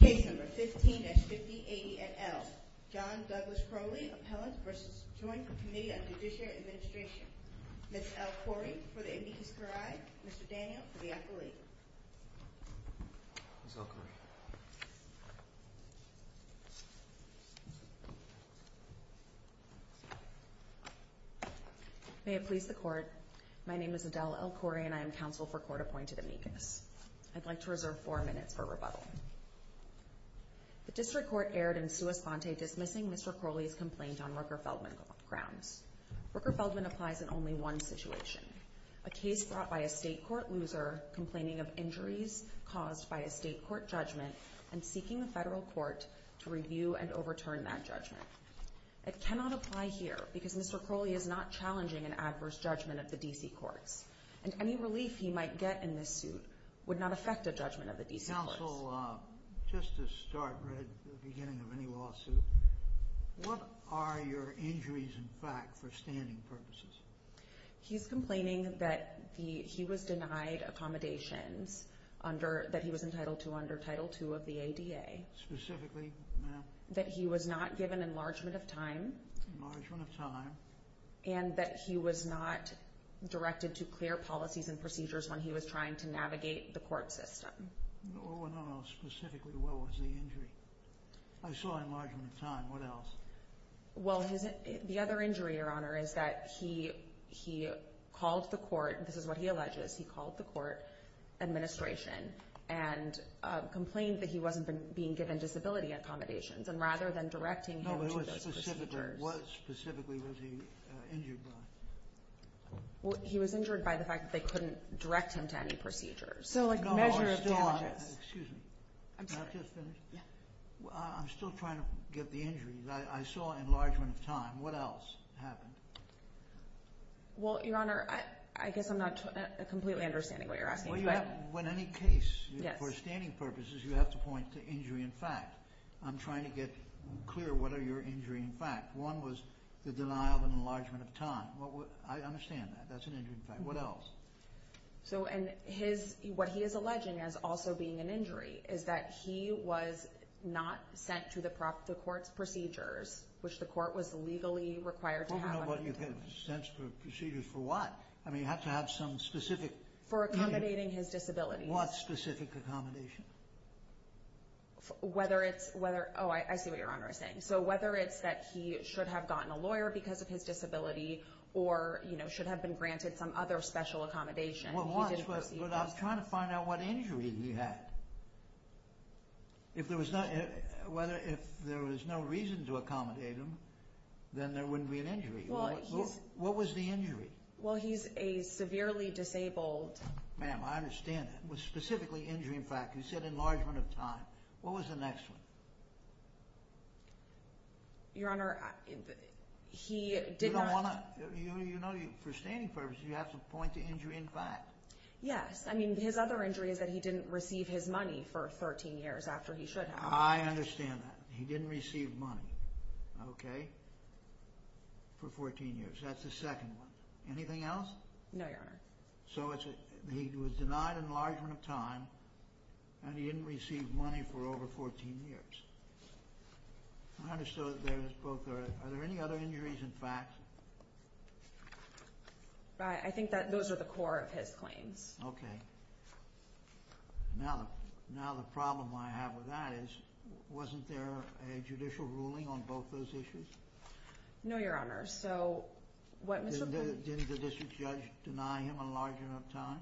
Case No. 15-588L. John Douglas Croley v. Joint Committee on Judicial Administration. Ms. El-Khoury for the meeting to arrive. Mr. Daniel for the operator. Ms. El-Khoury. May it please the Court, my name is Adele El-Khoury and I am counsel for Court-Appointed Amicus. I'd like to reserve four minutes for rebuttal. The District Court erred in sua fonte dismissing Mr. Croley's complaint on Rooker-Feldman grounds. Rooker-Feldman applies in only one situation, a case brought by a state court loser complaining of injuries caused by a state court judgment and seeking a federal court to review and overturn that judgment. I cannot apply here because Mr. Croley is not challenging an adverse judgment at the D.C. court and any relief he might get in this suit would not affect a judgment at the D.C. court. Counsel, just to start right at the beginning of any lawsuit, what are your injuries in fact for standing purposes? He's complaining that he was denied accommodation under, that he was entitled to under Title II of the ADA. Specifically? That he was not given enlargement of time. Enlargement of time. And that he was not directed to clear policies and procedures when he was trying to navigate the court system. No, no, no, specifically what was the injury? I saw enlargement of time, what else? Well, the other injury Your Honor, is that he called the court, this is what he alleges, he called the court administration and complained that he wasn't being given disability accommodations and rather than directing him to those procedures. What specifically was he injured by? He was injured by the fact that they couldn't direct him to any procedures. No, I saw, excuse me, I'm still trying to get the injuries, I saw enlargement of time, what else happened? Well, Your Honor, I guess I'm not completely understanding what you're asking. In any case, for standing purposes, you have to point to injury in fact. I'm trying to get clear what are your injury in fact. One was the denial of enlargement of time. I understand that, that's an injury is that he was not sent to the court's procedures, which the court was legally required to have. I don't know what you mean, sent to procedures for what? I mean, you have to have some specific For accommodating his disability. What specific accommodation? Whether it's, oh, I see what Your Honor is saying. So whether it's that he should have gotten a lawyer because of his disability or should have been granted some other special accommodation. But I'm trying to find out what injury he had. If there was no reason to accommodate him, then there wouldn't be an injury. What was the injury? Well, he's a severely disabled. Ma'am, I understand that. Specifically injury in fact, you said enlargement of time. What was the next one? Your Honor, he did not You know, for standing purposes, you have to point to And his other injury is that he didn't receive his money for 13 years after he should have. I understand that. He didn't receive money, okay, for 14 years. That's the second one. Anything else? No, Your Honor. So he was denied enlargement of time and he didn't receive money for over 14 years. I understood that there's both. Are there any other injuries in fact? I think that those are the core of his claim. Okay. Now the problem I have with that is wasn't there a judicial ruling on both those issues? No, Your Honor. So what Didn't the district judge deny him enlargement of time?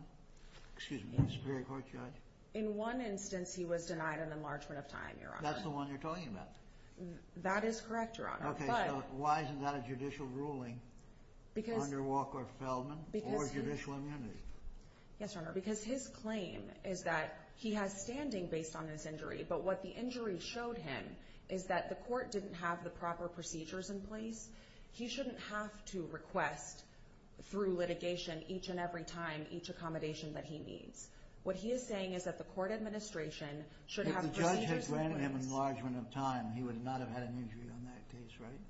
Excuse me, Superior Court judge. In one instance, he was denied an enlargement of time, Your Honor. That's the one you're That is correct, Your Honor. Okay, so why isn't that a judicial ruling under Walker-Feldman or judicial immunity? Yes, Your Honor, because his claim is that he has standing based on his injury, but what the injury showed him is that the court didn't have the proper procedures in place. He shouldn't have to request through litigation each and every time each accommodation that he needs. What he is saying is that the court administration should have If the judge had granted him enlargement of time, he would not have had an injury on that case, right?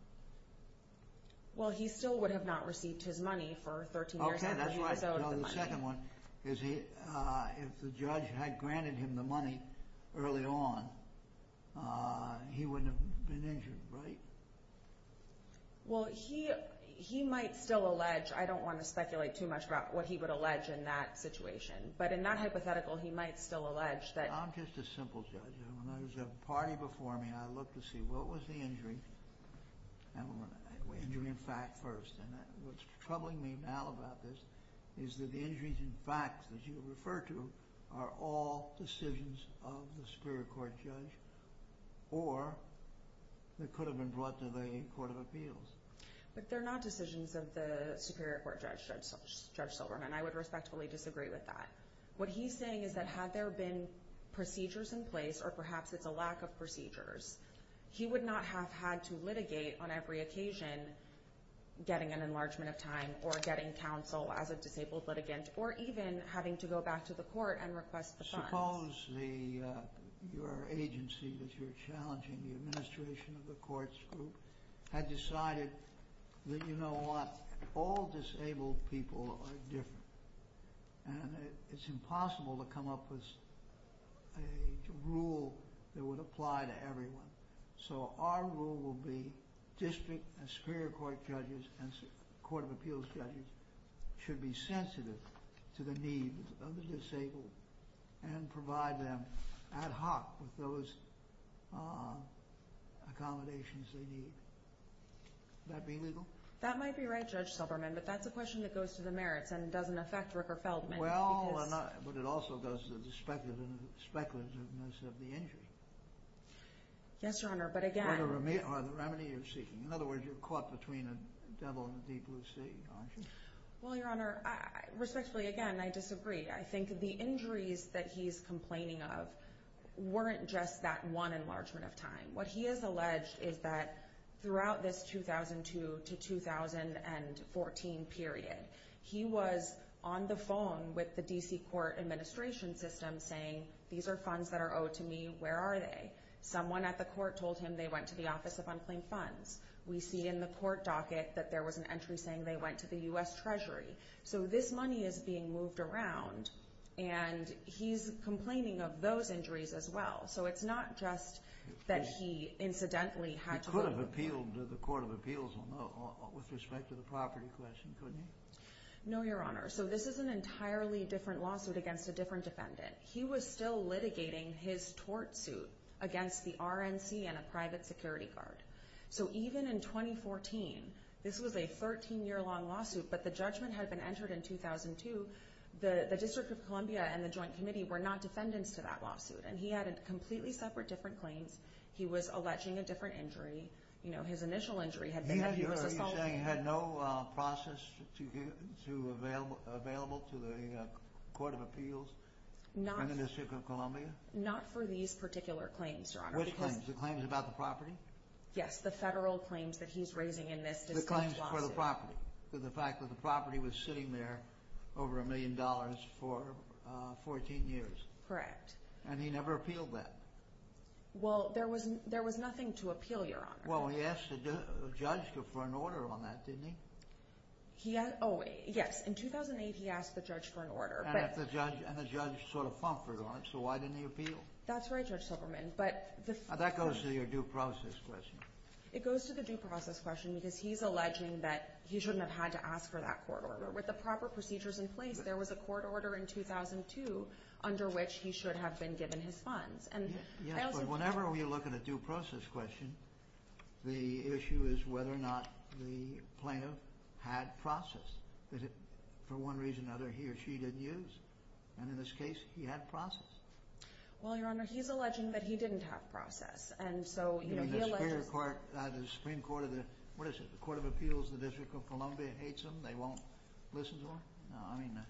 Well, he still would have not received his money for 13 years. Okay, that's right. So the second one is if the judge had granted him the money early on, he wouldn't have been injured, right? Well, he might still allege, I don't want to speculate too much about what he would allege in that situation, but in that hypothetical, he might still allege that I'm just a simple judge, and when there was a party before me, I looked to see what was the injury, and injury in fact first, and what's troubling me now about this is that the injuries in fact that you refer to are all decisions of the superior court judge or that could have been brought to the court of appeals. But they're not decisions of the superior court judge, Judge Silverman. I would respectfully disagree with that. What he's saying is that had there been procedures in place or perhaps with the lack of procedures, he would not have had to litigate on every occasion getting an enlargement of time or getting counsel as a disabled litigant or even having to go back to the court and request the funds. Suppose your agency that you're challenging, the administration of the courts group, had decided that you know what, all disabled people are different, and it's impossible to come up with a rule that would apply to everyone. So our rule would be district and superior court judges and court of appeals judges should be sensitive to the needs of those accommodations they need. Would that be legal? That might be right, Judge Silverman, but that's a question that goes to the merits and doesn't affect Ricker-Feldman. Well, but it also goes to the speculativeness of the injury. Yes, Your Honor, but again... Or the remedy you're seeking. In other words, you're caught between the devil and the deep blue sea, aren't you? Well, Your Honor, respectfully again, I disagree. I think the injuries that we're talking about, they aren't just that one enlargement of time. What he has alleged is that throughout this 2002 to 2014 period, he was on the phone with the D.C. court administration system saying, these are funds that are owed to me, where are they? Someone at the court told him they went to the Office of Unclaimed Funds. We see in the court docket that there was an entry saying they went to the U.S. Treasury. So this money is being moved around and he's complaining of those injuries as well. So it's not just that he incidentally had to... He could have appealed to the Court of Appeals with respect to the property question, couldn't he? No, Your Honor. So this is an entirely different lawsuit against a different defendant. He was still litigating his tort suit against the RNC and a private security guard. So even in 2014, this was a 13-year-long lawsuit, but the judgment had been entered in 2002. The District of Columbia and the Joint Committee were not defendants to that lawsuit, and he had a completely separate, different claim. He was alleging a different injury. His initial injury had been... Are you saying he had no process available to the Court of Appeals in the District of Columbia? Not for these particular claims, Your Honor. Which claims? The claims about the property? Yes, the federal claims that he's raising in this District of Columbia. The claims for the property? The fact that the property was sitting there over a million dollars for 14 years? Correct. And he never appealed that? Well, there was nothing to appeal, Your Honor. Well, he asked the judge for an order on that, didn't he? He had... Oh, wait. Yes. In 2008, he asked the judge for an order, but... And the judge sort of plumpered on it, so why didn't he appeal? That's right, Judge Silverman, but... Now, that goes to your due process question. It goes to the due process question because he's alleging that he shouldn't have had to ask for that court order. With the proper procedures in place, there was a court order in 2002 under which he should have been given his funds, and... Yes, but whenever we look at a due process question, the issue is whether or not the plaintiff had process. Is it, for one reason or another, he or she didn't use? And in this case, he had process? Well, Your Honor, he's alleging that he didn't have process, and so... You mean the Supreme Court of the... What is it? The Court of Appeals in the District of Columbia hates him? They won't listen to him? No, I mean the...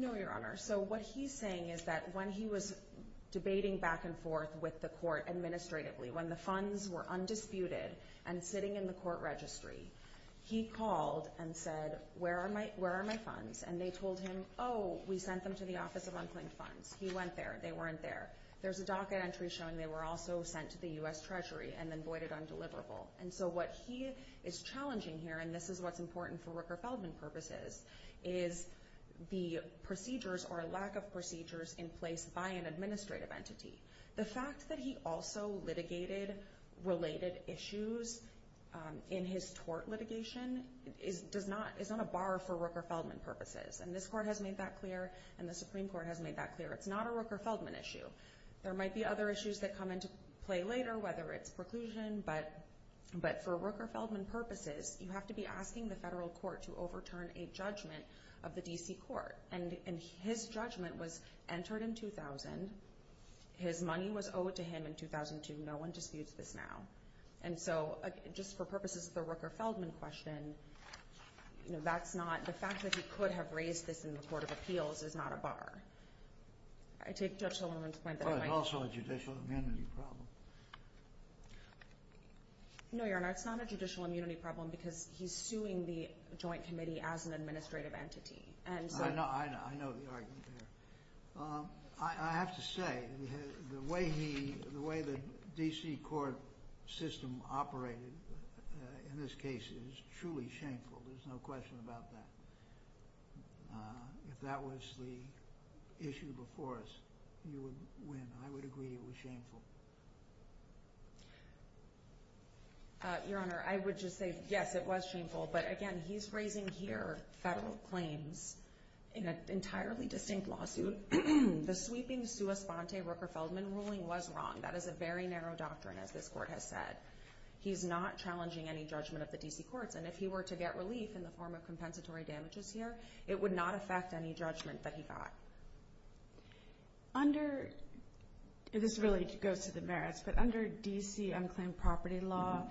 No, Your Honor. So what he's saying is that when he was debating back and forth with the court administratively, when the funds were undisputed and sitting in the court registry, he called and said, where are my funds? And they told him, oh, we sent them to the Office of Unplanned Funds. He went there. They weren't there. There's a DACA entry showing they were also sent to the U.S. Treasury and then voided on deliverable. And so what he is challenging here, and this is what's important for Rooker-Feldman purposes, is the procedures or lack of procedures in place by an administrative entity. The fact that he also litigated related issues in his tort litigation is on a bar for Rooker-Feldman purposes. And this court has made that clear, and the Supreme Court has made that clear. It's not a Rooker-Feldman issue. There might be other issues that come into play later, whether it's preclusion, but for Rooker-Feldman purposes, you have to be asking the federal court to overturn a judgment of the D.C. Court. And his judgment was entered in 2000. His money was owed to him in 2002. No one disputes this now. And so, just for purposes of the Rooker-Feldman question, that's not – the fact that he could have raised this in the Court of Appeals is not a bar. I take Judge Sullivan's point that – But it's also a judicial immunity problem. No, Your Honor, it's not a judicial immunity problem because he's suing the Joint Committee as an administrative entity. And – The way the court system operated in this case is truly shameful. There's no question about that. If that was the issue before us, you would win. I would agree it was shameful. Your Honor, I would just say, yes, it was shameful. But again, he's raising here federal claims in an entirely distinct lawsuit. The sweeping sua fonte Rooker-Feldman ruling was wrong. That is a very narrow doctrine, as this Court has said. He's not challenging any judgment of the D.C. Court. And if he were to get relief in the form of compensatory damages here, it would not affect any judgment that he got. Under – this is really to go to the merits, but under D.C. unclaimed property law,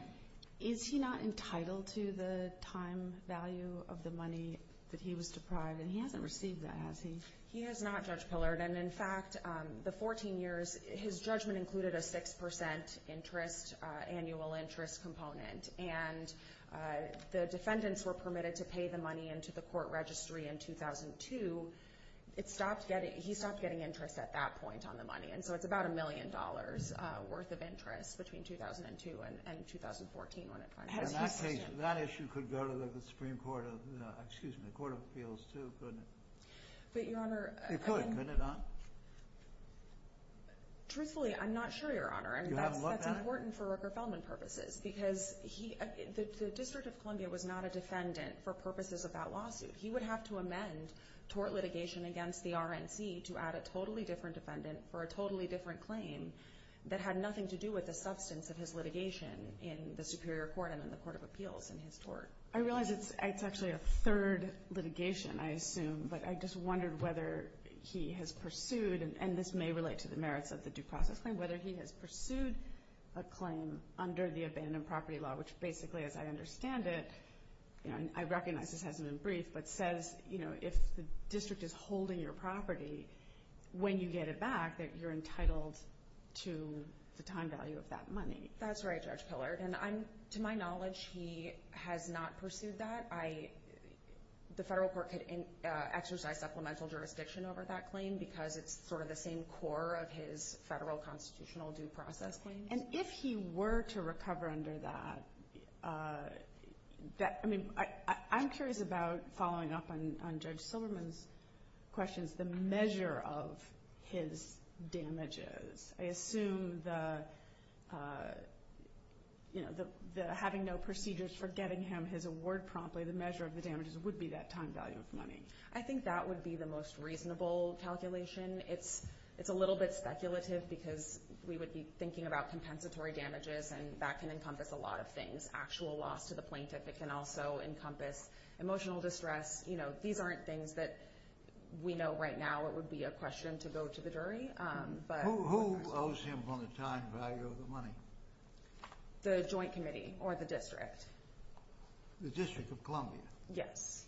is he not entitled to the time value of the money that he was deprived? And he hasn't received that, has he? He has not, Judge Pillard. And in fact, the 14 years – his judgment included a 6 percent interest – annual interest component. And the defendants were permitted to pay the money into the court registry in 2002. It stopped getting – he stopped getting interest at that point on the money. And so it's about a million dollars' worth of interest between 2002 and 2014 when it finally – And that case – that issue could go to the Supreme Court of – excuse me, the Court of Appeals too, but – But, Your Honor – It could, couldn't it, huh? Truthfully, I'm not sure, Your Honor. You haven't looked at it? That's important for repropellment purposes because he – the District of Columbia was not a defendant for purposes of that lawsuit. He would have to amend tort litigation against the RNC to add a totally different defendant for a totally different claim that had nothing to do with the substance of his litigation in the Superior Court and in the Court of Appeals in his court. I realize it's actually a third litigation, I assume, but I just wondered whether he has pursued – and this may relate to the merits of the due process claim – whether he has pursued a claim under the Abandoned Property Law, which basically, as I understand it – I recognize it hasn't been briefed – but says, you know, if the district is holding your property, when you get it back, that you're entitled to the time value of that money. That's right, Judge Pillar. And I'm – to my knowledge, he has not pursued that. I – the federal court could exercise supplemental jurisdiction over that claim because it's sort of the same core of his federal constitutional due process claim. And if he were to recover under that, that – I mean, I'm curious about following up on Judge Silverman's questions, the measure of his damages. I assume the – you know, the having no procedures for getting him his award promptly, the measure of the damages would be that time value of money. I think that would be the most reasonable calculation. It's a little bit speculative because we would be thinking about compensatory damages, and that can encompass a lot of things. There's actual loss to the plaintiff. It can also encompass emotional distress. You know, these aren't things that we know right now it would be a question to go to the jury, but – Who owes him for the time value of the money? The joint committee or the district. The District of Columbia? Yes.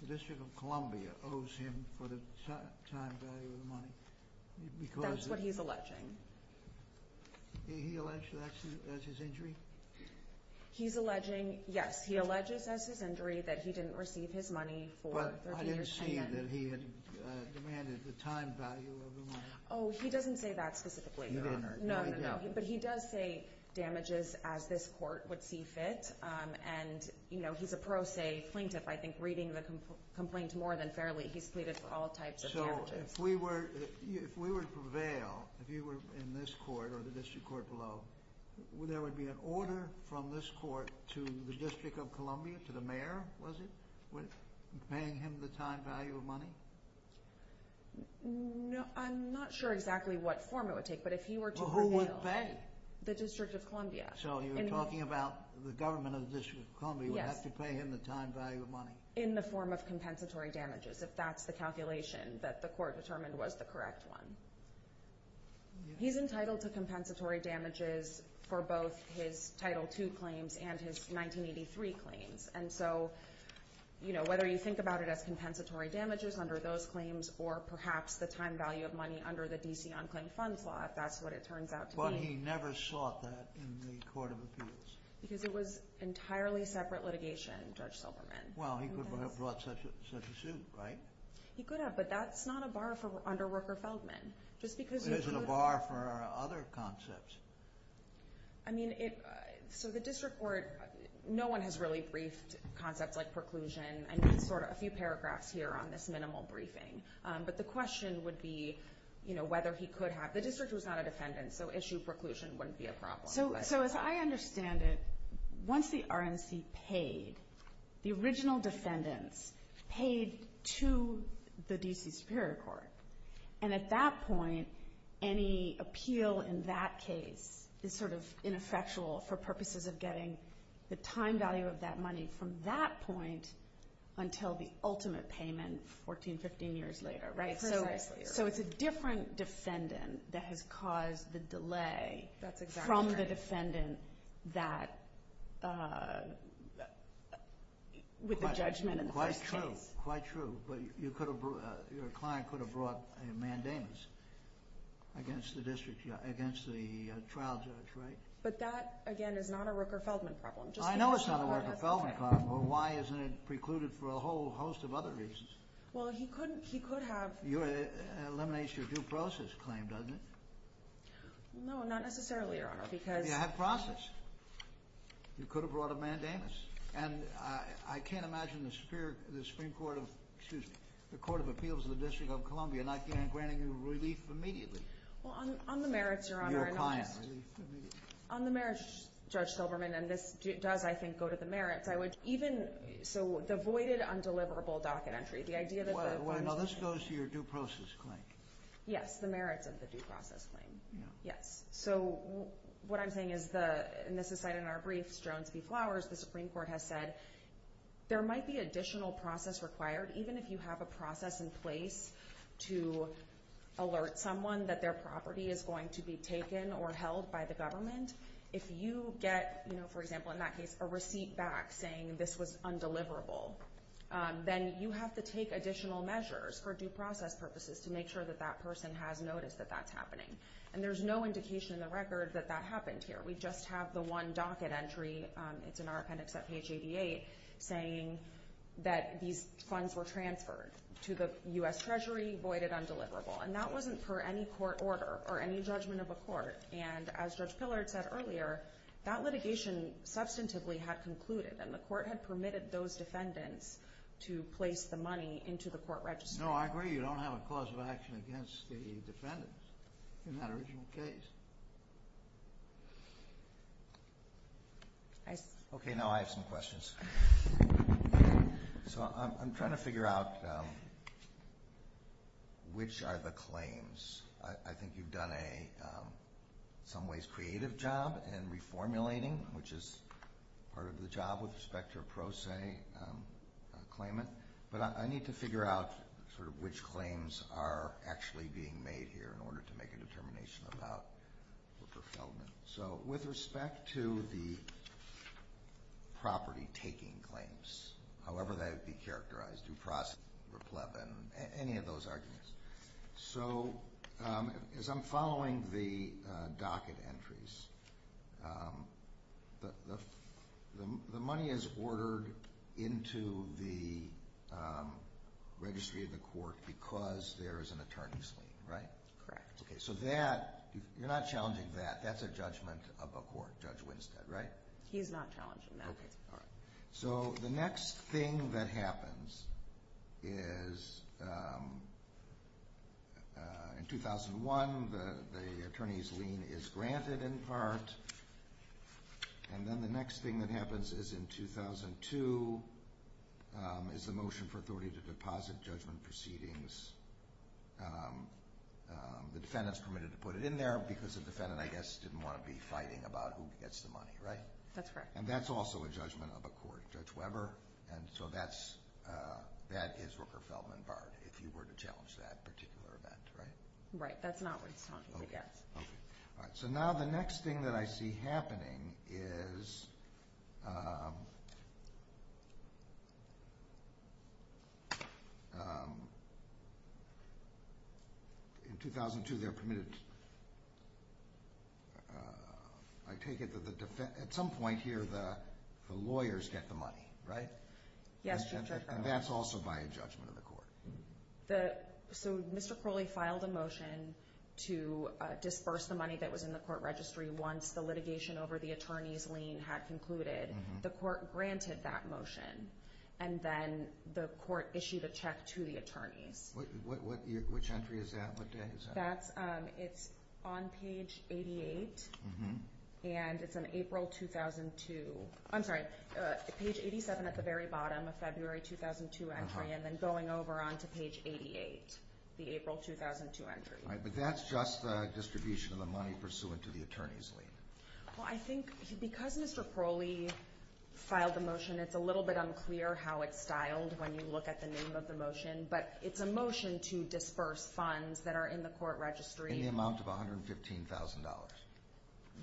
The District of Columbia owes him for the time value of the money because – That's what he's alleging. He alleges that's his injury? He's alleging – yes, he alleges that's his injury, that he didn't receive his money for – But I didn't see that he had demanded the time value of the money. Oh, he doesn't say that specifically. You didn't? No, no, no. But he does say damages as this court would see fit. And, you know, he's a pro se plaintiff. I think reading the complaint more than fairly, he's pleaded for all types of damages. So if we were – if we were to prevail, if you were in this court or the district court below, there would be an order from this court to the District of Columbia, to the mayor, was it, with paying him the time value of money? No, I'm not sure exactly what form it would take, but if you were to prevail – Well, who would vet the District of Columbia? So you're talking about the government of the District of Columbia would have to pay him the time value of money? In the form of compensatory damages, if that's the calculation that the court determined was the correct one. He's entitled to compensatory damages for both his Title II claims and his 1983 claims. And so, you know, whether you think about it as compensatory damages under those claims or perhaps the time value of money under the D.C. Unclaimed Funds Law, that's what it turns out to be. But he never sought that in the court of appeals? Because it was entirely separate litigation, Judge Silverman. Well, he could have brought such a suit, right? He could have, but that's not a bar for Underworker Feldman. It isn't a bar for other concepts. I mean, so the district court – no one has really briefed concepts like preclusion, and there's sort of a few paragraphs here on this minimal briefing. But the question would be, you know, whether he could have – the district was not a defendant, so issue preclusion wouldn't be a problem. So as I understand it, once the RNC paid, the original defendant paid to the D.C. Superior Court. And at that point, any appeal in that case is sort of ineffectual for purposes of getting the time value of that money from that point until the ultimate payment 14, 15 years later, right? Exactly. So it's a different defendant that has caused the delay from the defendant that – with the judgment. Quite true, quite true. But your client could have brought a mandamus against the trial judge, right? But that, again, is not a Rooker-Feldman problem. I know it's not a Rooker-Feldman problem, but why isn't it precluded for a whole host of other reasons? Well, he could have – It eliminates your due process claim, doesn't it? No, not necessarily, Your Honor, because – But you have process. You could have brought a mandamus. And I can't imagine the Supreme Court – excuse me – the Court of Appeals of the District of Columbia not granting relief immediately. Well, on the merits, Your Honor – Your client. On the merits, Judge Silverman – and this does, I think, go to the merits – I would Well, no, this goes to your due process claim. Yes, the merits of the due process claim. Yes. So what I'm saying is the – and this is cited in our brief, Jones v. Flowers, the Supreme Court has said there might be additional process required. Even if you have a process in place to alert someone that their property is going to be taken or held by the government, if you get, for example, a receipt back saying this was undeliverable, then you have to take additional measures for due process purposes to make sure that that person has noticed that that's happening. And there's no indication in the record that that happened here. We just have the one docket entry – it's in our appendix at page 88 – saying that these funds were transferred to the U.S. Treasury voided undeliverable. And that wasn't per any court order or any judgment of a court. And as Judge Pillard said earlier, that litigation substantively had concluded, and the court had permitted those defendants to place the money into the court register. No, I agree you don't have a cause of action against the defendants in that original case. Okay, now I have some questions. So I'm trying to figure out which are the claims. I think you've done a, in some ways, creative job in reformulating, which is part of the job with respect to a pro se claimant. But I need to figure out sort of which claims are actually being made here in order to make a determination about the fulfillment. So with respect to the property taking claims, however they would be characterized, due process, any of those arguments. So as I'm following the docket entries, the money is ordered into the registry of the court because there is an attorney's lien, right? Correct. So that, you're not challenging that. That's a judgment of a court, Judge Winstead, right? He's not challenging that. So the next thing that happens is, in 2001, the attorney's lien is granted in part. And then the next thing that happens is in 2002, is the motion for authority to deposit judgment proceedings. The defendant's permitted to put it in there because the defendant, I guess, didn't want to be fighting about who gets the money, right? That's correct. So that's a judgment of a court, Judge Weber. And so that is where fulfillment barred, if you were to challenge that particular event, right? Right. That's not where he's challenging it yet. All right. So now the next thing that I see happening is, in 2002, they're permitted to At some point here, the lawyers get the money, right? Yes. And that's also by a judgment of the court. So Mr. Crowley filed a motion to disburse the money that was in the court registry once the litigation over the attorney's lien had concluded. The court granted that motion. And then the court issued a check to the attorney. Which entry is that? It's on page 88, and it's on April 2002. I'm sorry, page 87 at the very bottom, a February 2002 entry, and then going over onto page 88, the April 2002 entry. But that's just the distribution of the money pursuant to the attorney's lien. Well, I think because Mr. Crowley filed the motion, it's a little bit unclear how it's disbursed funds that are in the court registry. In the amount of $115,000.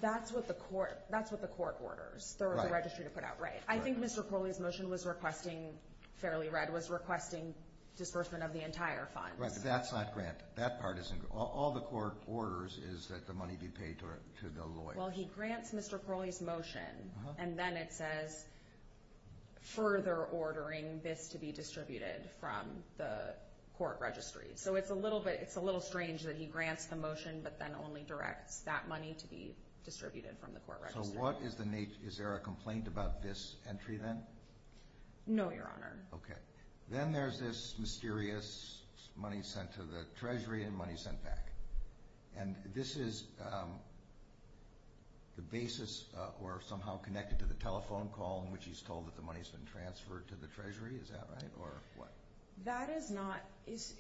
That's what the court orders the registry to put out, right? Right. I think Mr. Crowley's motion was requesting, Fairly Read was requesting disbursement of the entire fund. Right, but that's not granted. That part isn't. All the court orders is that the money be paid to the lawyer. Well, he grants Mr. Crowley's motion, and then it says, further ordering this to be So it's a little strange that he grants the motion, but then only directs that money to be distributed from the court registry. So is there a complaint about this entry then? No, Your Honor. Okay. Then there's this mysterious money sent to the Treasury and money sent back. And this is the basis, or somehow connected to the telephone call in which he's told that the money's been transferred to the Treasury. Is that right, or what? That is not,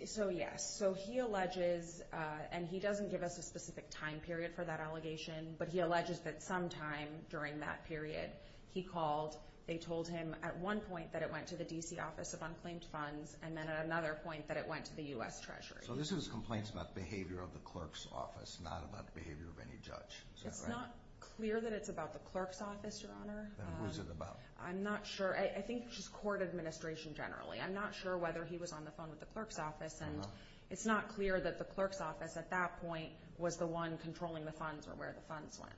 so yes. So he alleges, and he doesn't give us a specific time period for that allegation, but he alleges that sometime during that period, he called, they told him at one point that it went to the D.C. Office of Unclaimed Funds, and then at another point that it went to the U.S. Treasury. So this is complaints about behavior of the clerk's office, not about behavior of any judge. Is that right? It's not clear that it's about the clerk's office, Your Honor. Then who's it about? I'm not sure. I think it's just court administration generally. I'm not sure whether he was on the phone with the clerk's office, and it's not clear that the clerk's office at that point was the one controlling the funds or where the funds went.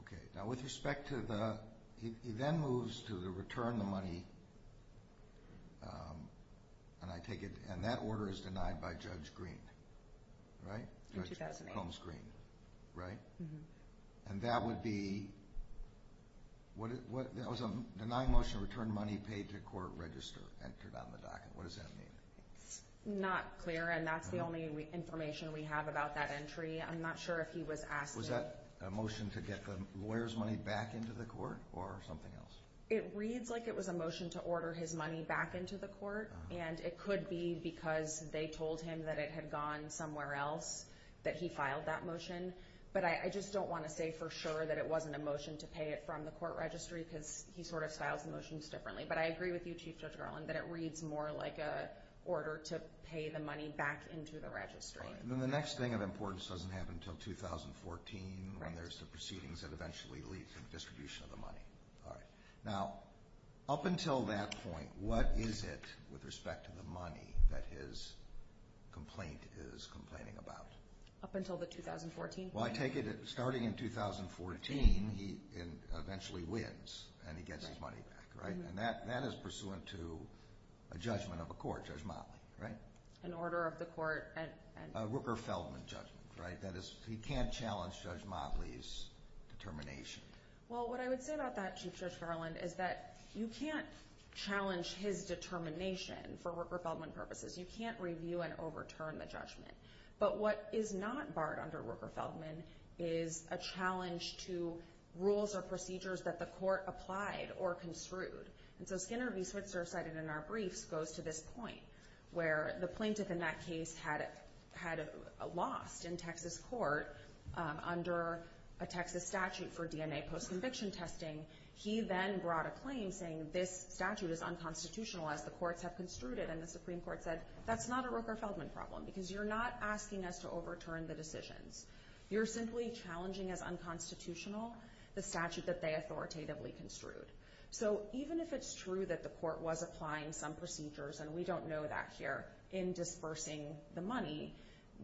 Okay. Now with respect to the, he then moves to the return of the money, and I take it, and that order is denied by Judge Green, right? 2008. And that would be, the non-motion return money paid to court register entered on the docket. What does that mean? Not clear, and that's the only information we have about that entry. I'm not sure if he was asked to. Was that a motion to get the lawyer's money back into the court or something else? It reads like it was a motion to order his money back into the court, and it could be because they told him that it had gone somewhere else, that he filed that motion. But I just don't want to say for sure that it wasn't a motion to pay it from the court registry because he sort of filed motions differently. But I agree with you, Chief Judge Garland, that it reads more like an order to pay the money back into the registry. All right. And then the next thing of importance doesn't happen until 2014 when there's some proceedings that eventually lead to the distribution of the money. All right. Now, up until that point, what is it with respect to the money that his complaint is complaining about? Up until the 2014? Well, I take it that starting in 2014, he eventually wins and he gets his money back, right? And that is pursuant to a judgment of a court, Judge Motley, right? An order of the court. A Rooker-Feldman judgment, right? That is, he can't challenge Judge Motley's determination. Well, what I would say about that, Chief Judge Garland, is that you can't challenge his determination for Rooker-Feldman purposes. You can't review and overturn the judgment. But what is not barred under Rooker-Feldman is a challenge to rules or procedures that the court applied or construed. And so Skinner Research, as cited in our brief, goes to this point where the plaintiff in that case had a loft in Texas court under a Texas statute for DNA post-conviction testing. He then brought a claim saying this statute is unconstitutionalized. The courts have construed it and the Supreme Court said, that's not a Rooker-Feldman problem because you're not asking us to overturn the decision. You're simply challenging as unconstitutional the statute that they authoritatively construed. So even if it's true that the court was applying some procedures, and we don't know that here, in disbursing the money,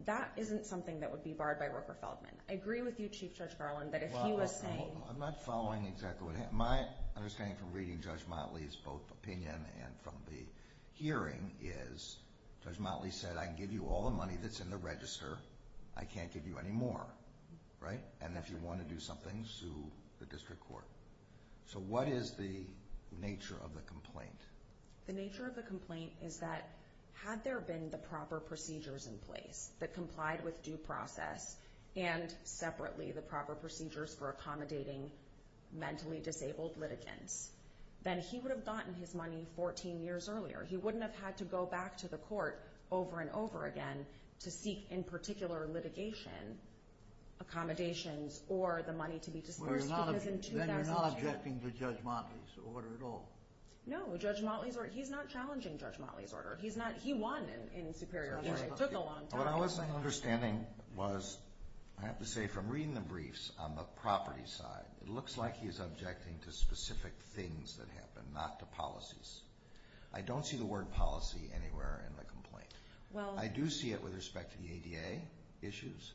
that isn't something that would be barred by Rooker-Feldman. I agree with you, Chief Judge Garland, but if he was saying... I'm not following exactly what happened. My understanding from reading Judge Motley's both opinion and from the hearing is Judge Motley said, I give you all the money that's in the register, I can't give you any more. Right? And if you want to do something, sue the district court. So what is the nature of the complaint? The nature of the complaint is that had there been the proper procedures in place that complied with due process, and separately the proper procedures for accommodating mentally disabled litigants, then he would have gotten his money 14 years earlier. He wouldn't have had to go back to the court over and over again to seek in particular litigation accommodations or the money to be disbursed. Then you're not objecting to Judge Motley's order at all? No, Judge Motley's order... He's not challenging Judge Motley's order. He won in Superior Court. What I wasn't understanding was, I have to say from reading the briefs on the property side, it looks like he's objecting to specific things that happened, not to policies. I don't see the word policy anywhere in the complaint. I do see it with respect to the ADA issues,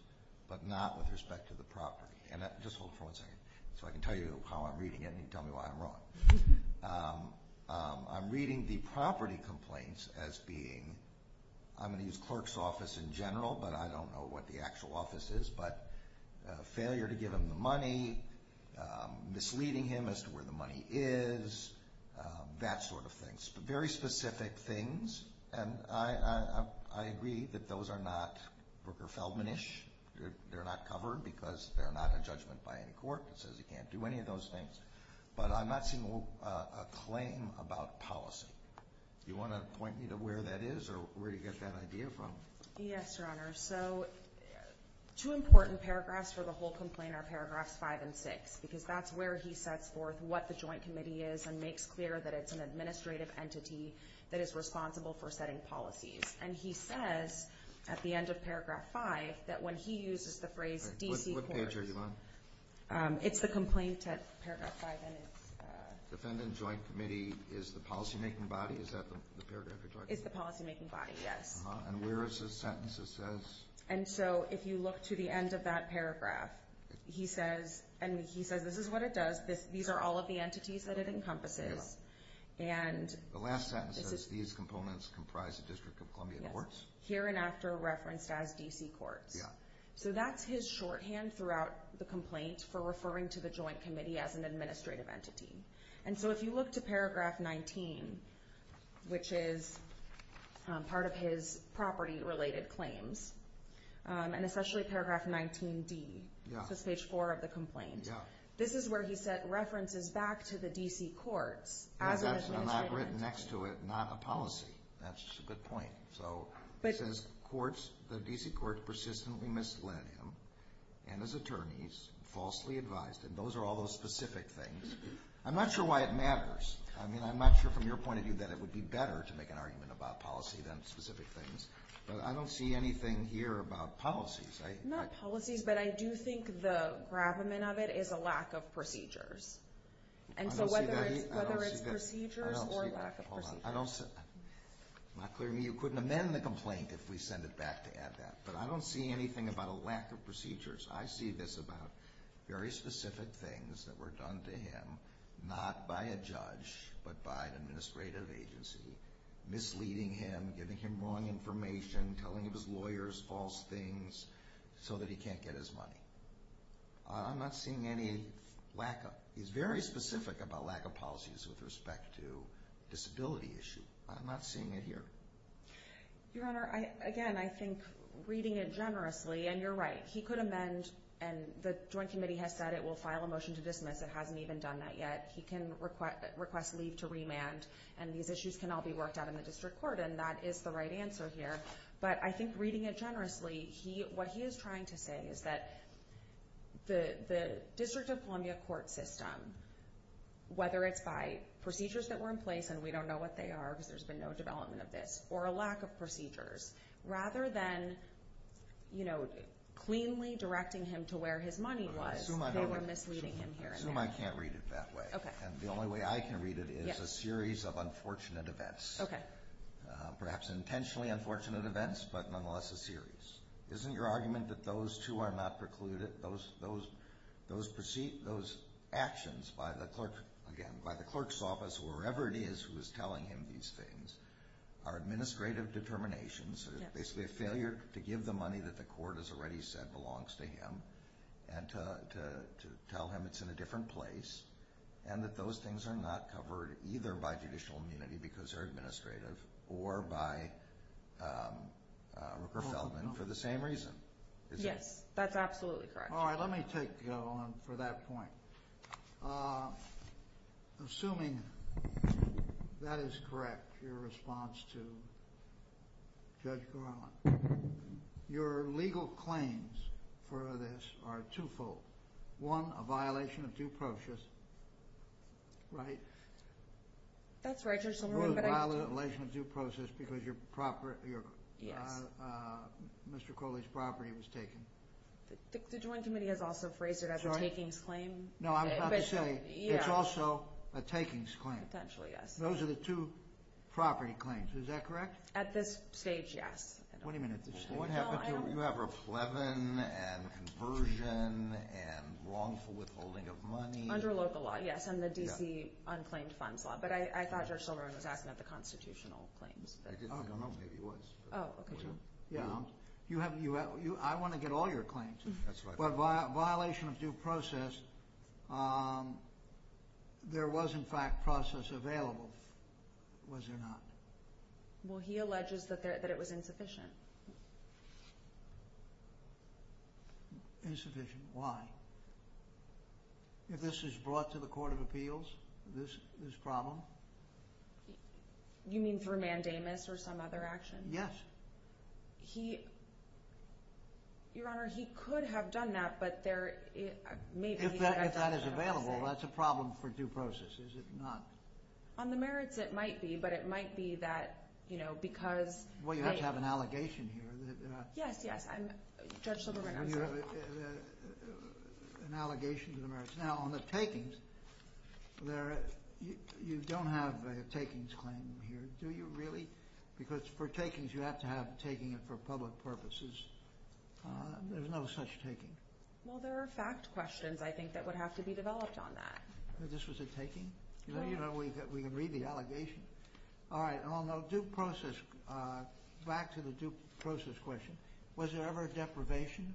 but not with respect to the property. And just hold for one second, so I can tell you how I'm reading it and you can tell me why I'm wrong. I'm reading the property complaints as being... I'm going to use clerk's office in general, but I don't know what the actual office is, but failure to give him the money, misleading him as to where the money is, that sort of thing. Very specific things, and I agree that those are not Brooker Feldman-ish. They're not covered because they're not in judgment by any court that says he can't do any of those things. But I'm not seeing a claim about policy. Do you want to point me to where that is or where you get that idea from? Yes, Your Honor. So, two important paragraphs for the whole complaint are paragraphs five and six, because that's where he sets forth what the joint committee is and makes clear that it's an administrative entity that is responsible for setting policies. And he said at the end of paragraph five that when he uses the phrase... What page are you on? It's the complaints at paragraph five. Defendant joint committee is the policymaking body. Is that the paragraph you're talking about? It's the policymaking body, yes. And where is the sentence that says... And so, if you look to the end of that paragraph, he says, and he says this is what it does. These are all of the entities that it encompasses, and... The last sentence says these components comprise the District of Columbia courts. Here and after referenced as D.C. courts. So, that's his shorthand throughout the complaint for referring to the joint committee as an administrative entity. And so, if you look to paragraph 19, which is part of his property related claims, and especially paragraph 19B, which is page four of the complaint, this is where he sets references back to the D.C. courts as an... It's not written next to it, not a policy. That's the point. So, it says courts, the D.C. courts persistently mislead him, and his attorneys falsely advised him. Those are all those specific things. I'm not sure why it matters. I mean, I'm not sure from your point of view that it would be better to make an argument about policy than specific things. But I don't see anything here about policies. Not policies, but I do think the gravamen of it is a lack of procedures. And so, whether it's procedures or lack of procedures. Hold on. I don't see... Clearly, you couldn't amend the complaint if we send it back to add that. But I don't see anything about a lack of procedures. I see this about very specific things that were done to him, not by a judge, but by an administrative agency, misleading him, giving him wrong information, telling his lawyers false things, so that he can't get his money. I'm not seeing any lack of... He's very specific about lack of policies with respect to disability issues. I'm not seeing it here. Your Honor, again, I think reading it generously, and you're right. He could amend, and the Joint Committee has said it will file a motion to dismiss. It hasn't even done that yet. He can request leave to remand, and these issues can all be worked out in the district court, and that is the right answer here. But I think reading it generously, what he is trying to say is that the District of Columbia court system, whether it's by procedures that were in place, and we don't know what they are because there's been no development of this, or a lack of procedures, rather than cleanly directing him to where his money was, they were misleading him here and there. I can't read it that way. The only way I can read it is a series of unfortunate events, perhaps intentionally unfortunate events, but nonetheless a series. Isn't your argument that those two are not precluded? Those actions by the clerk's office, wherever it is who is telling him these things, are administrative determinations, basically a failure to give the money that the court has already said belongs to him, and to tell him it's in a different place, and that those things are not covered either by judicial immunity because they're administrative, or by Rupert Feldman for the same reason? Yes, that's absolutely correct. All right, let me take you on for that point. Assuming that is correct, your response to Judge Garland, your legal claims for this are two-fold. One, a violation of due process, right? That's right, Judge. Or a violation of due process because Mr. Crowley's property was taken. The joint committee has also phrased it as a takings claim. No, I was about to say, it's also a takings claim. Potentially, yes. Those are the two property claims, is that correct? At this stage, yes. Wait a minute. You have Ruff-Levin, and Conversion, and wrongful withholding of money. Under local law, yes, and the D.C. Unclaimed Funds Law, but I thought Judge Silberman was asking about the constitutional claims. I don't remember if he was. Oh, okay. I want to get all your claims. That's right. But a violation of due process, there was, in fact, process available, was there not? Well, he alleges that it was insufficient. Insufficient, why? If this is brought to the Court of Appeals, this problem? You mean through mandamus or some other action? Yes. He, Your Honor, he could have done that, but there may be other factors. If that is available, that's a problem for due process, is it not? On the merits, it might be, but it might be that, you know, because... Well, you have to have an allegation here. Yes, yes, Judge Silberman. And you have an allegation to the merits. Now, on the takings, you don't have a takings claim here, do you really? Because for takings, you have to have the taking for public purposes. There's no such taking. Well, there are fact questions, I think, that would have to be developed on that. This was a taking? Yes. We can read the allegation. All right. On the due process, back to the due process question, was there ever deprivation?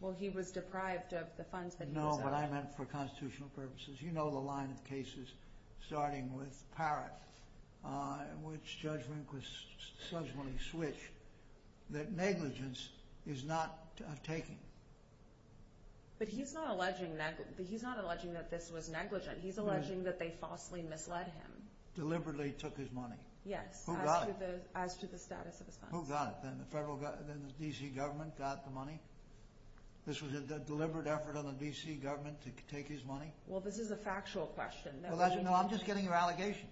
Well, he was deprived of the funds that he had. No, but I meant for constitutional purposes. You know the line of cases starting with Parrott, which Judge Winkler subsequently switched, that negligence is not a taking. But he's not alleging that this was negligent. He's alleging that they falsely misled him. Deliberately took his money. Yes. Who got it? As to the status of the funds. Who got it? Then the federal, then the D.C. government got the money? This was a deliberate effort on the D.C. government to take his money? Well, this is a factual question. No, I'm just getting your allegation.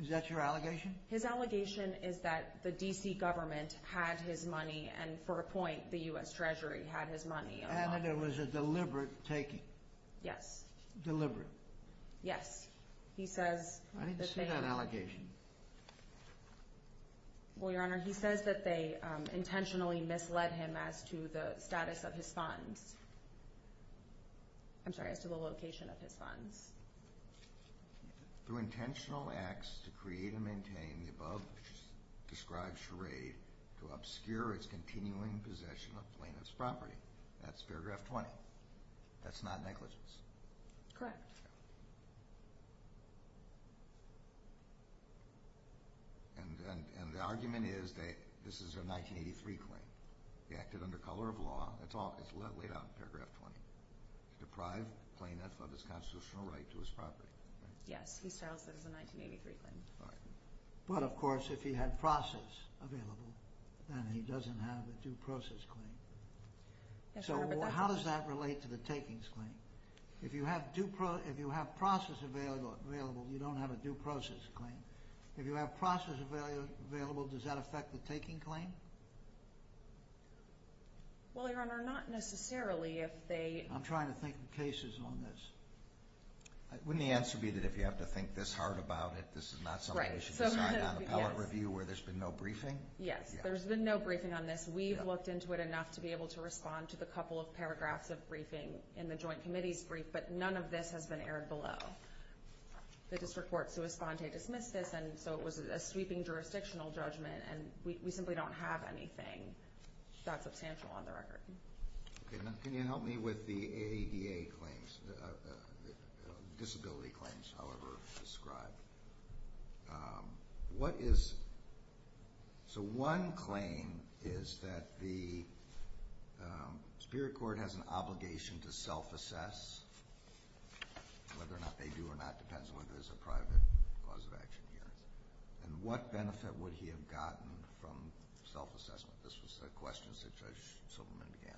Is that your allegation? His allegation is that the D.C. government had his money, and for a point, the U.S. Treasury had his money. And that it was a deliberate taking? Yes. Deliberate? Yes. I didn't see that allegation. Well, Your Honor, he says that they intentionally misled him as to the status of his funds. I'm sorry, as to the location of his funds. Through intentional acts to create and maintain the above-described charade to obscure his continuing possession of plaintiff's property. That's paragraph 20. That's not negligence? Correct. And the argument is that this is a 1983 claim. He acted under color of law. It's all laid out in paragraph 20. Deprived the plaintiff of his constitutional right to his property. Yes, he settled for the 1983 claims. But, of course, if he had process available, then he doesn't have a due process claim. So how does that relate to the takings claim? If you have process available, you don't have a due process claim. If you have process available, does that affect the taking claim? Well, Your Honor, not necessarily. I'm trying to think of cases on this. Wouldn't the answer be that if you have to think this hard about it, this is not something that you can find in an appellate review where there's been no briefing? Yes, there's been no briefing on this. We looked into it enough to be able to respond to the couple of paragraphs of briefing in the joint committee's brief, but none of this has been aired below. There's this report to respond to a dismissive, and so it was a sweeping jurisdictional judgment, and we simply don't have anything that's substantial on the record. Can you help me with the ADA claims, the disability claims, however, described? So one claim is that the Superior Court has an obligation to self-assess, whether or not they do or not depends on whether there's a private cause of action here. And what benefit would he have gotten from self-assessment? This was a question to Judge Silverman DeAnna.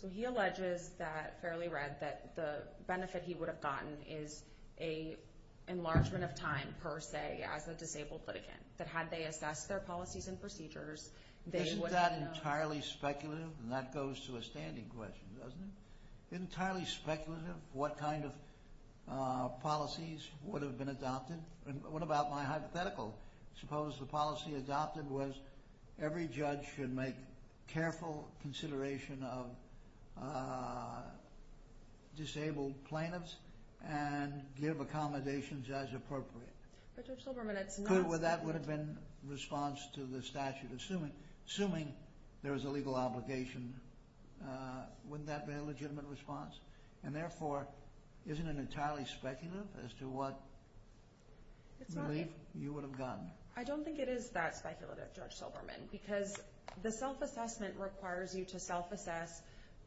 So he alleges that, fairly read, that the benefit he would have gotten is an enlargement of time, per se, as a disabled person. But had they assessed their policies and procedures, they would have known— This is not entirely speculative, and that goes to a standing question, doesn't it? Entirely speculative, what kind of policies would have been adopted? What about my hypothetical? Suppose the policy adopted was every judge should make careful consideration of disabled plaintiffs and give accommodations as appropriate. Judge Silverman, I— So that would have been response to the statute, assuming there was a legal obligation. Wouldn't that be a legitimate response? And therefore, isn't it entirely speculative as to what relief you would have gotten? I don't think it is that speculative, Judge Silverman, because the self-assessment requires you to self-assess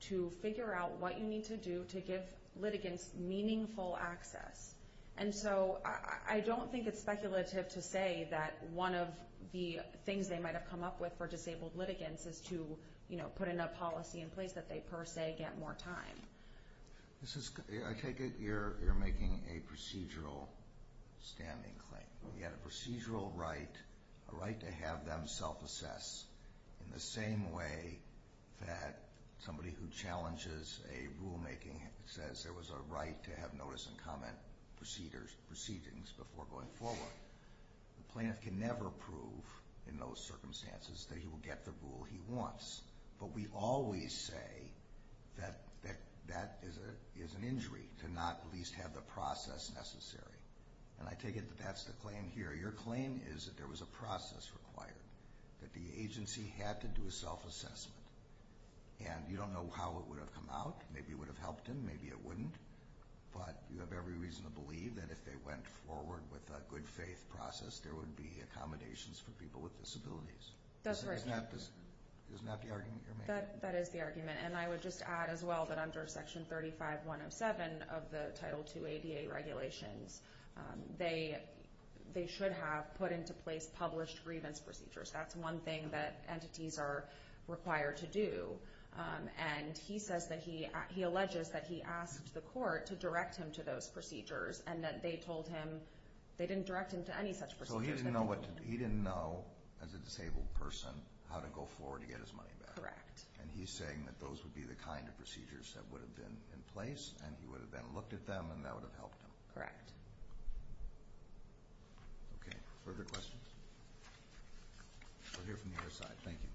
to figure out what you need to do to give litigants meaningful access. And so I don't think it's speculative to say that one of the things they might have come up with for disabled litigants is to put in a policy in place that they, per se, get more time. I take it you're making a procedural standing claim. We had a procedural right, a right to have them self-assess in the same way that somebody who challenges a rulemaking says there was a right to have notice and comment proceedings before going forward. The plaintiff can never prove in those circumstances that he will get the rule he wants, but we always say that that is an injury to not at least have the process necessary. And I take it that that's the claim here. Your claim is that there was a process required, that the agency had to do a self-assessment. And you don't know how it would have come out. Maybe it would have helped him. Maybe it wouldn't. But you have every reason to believe that if they went forward with a good-faith process, there would be accommodations for people with disabilities. That's correct. Isn't that the argument you're making? That is the argument. And I would just add as well that under Section 35107 of the Title II ABA regulations, they should have put into place published grievance procedures. That's one thing that entities are required to do. And he says that he alleges that he asked the court to direct him to those procedures and that they told him they didn't direct him to any such procedures. Well, he didn't know as a disabled person how to go forward to get his money back. Correct. And he's saying that those would be the kind of procedures that would have been in place and he would have then looked at them and that would have helped him. Correct. Okay. Further questions? We'll hear from the other side. Thank you.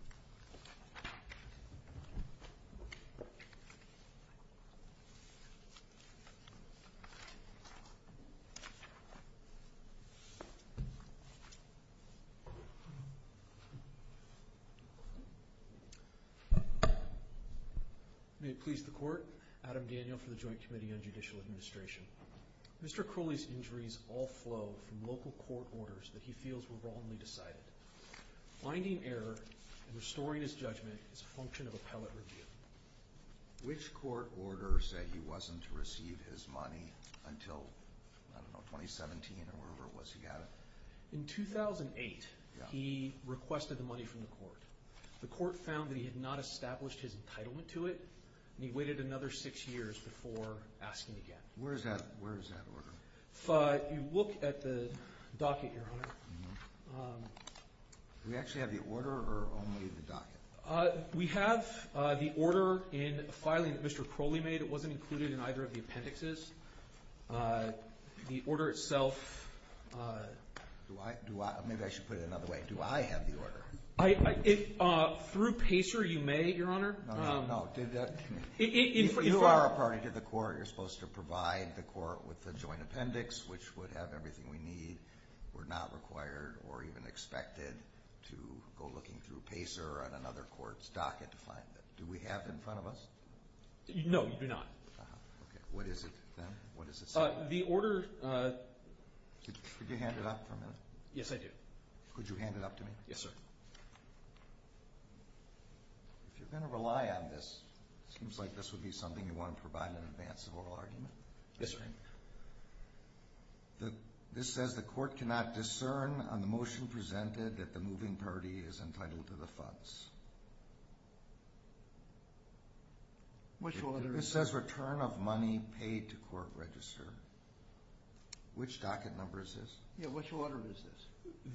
May it please the Court, Adam Daniel for the Joint Committee on Judicial Administration. Mr. Crowley's injuries all flow from local court orders that he feels were wrongly decided. Finding error in restoring his judgment is a function of appellate review. Which court order said he wasn't to receive his money until, I don't know, 2017 or whatever it was he got? The court found that he had not established his entitlement to it and he waited another six years before asking again. Where is that order? If you look at the docket here, Hunter. Do we actually have the order or only the docket? We have the order in a filing that Mr. Crowley made. It wasn't included in either of the appendixes. The order itself... Through PACER you may, Your Honor. You are a part of the court. You're supposed to provide the court with the joint appendix which would have everything we need. We're not required or even expected to go looking through PACER or another court's docket to find it. Do we have it in front of us? No, we do not. What is it then? What does it say? The order... Could you hand it up for a minute? Yes, I do. Could you hand it up to me? Yes, sir. If you're going to rely on this, it seems like this would be something you want to provide in advance of a whole argument. Yes, sir. This says the court cannot discern on the motion presented that the moving party is entitled to the funds. This says return of money paid to court register. Which docket number is this? Yeah, which order is this?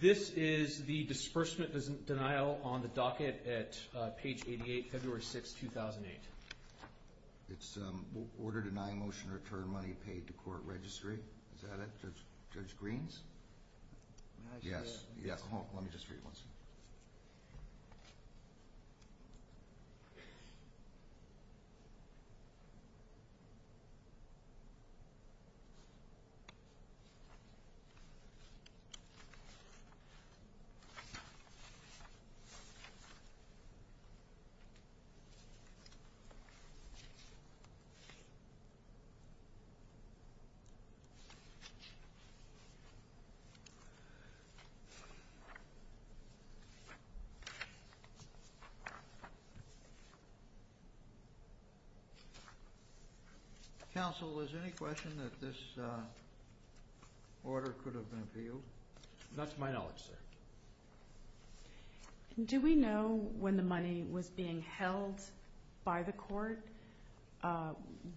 This is the disbursement denial on the docket at page 88, February 6, 2008. It's the order denying motion to return money paid to court registry. Is that it, Judge Greene? Yes. Let me just read this. Counsel, is there any question that this order could have been reviewed? That's my knowledge, sir. Do we know when the money was being held by the court,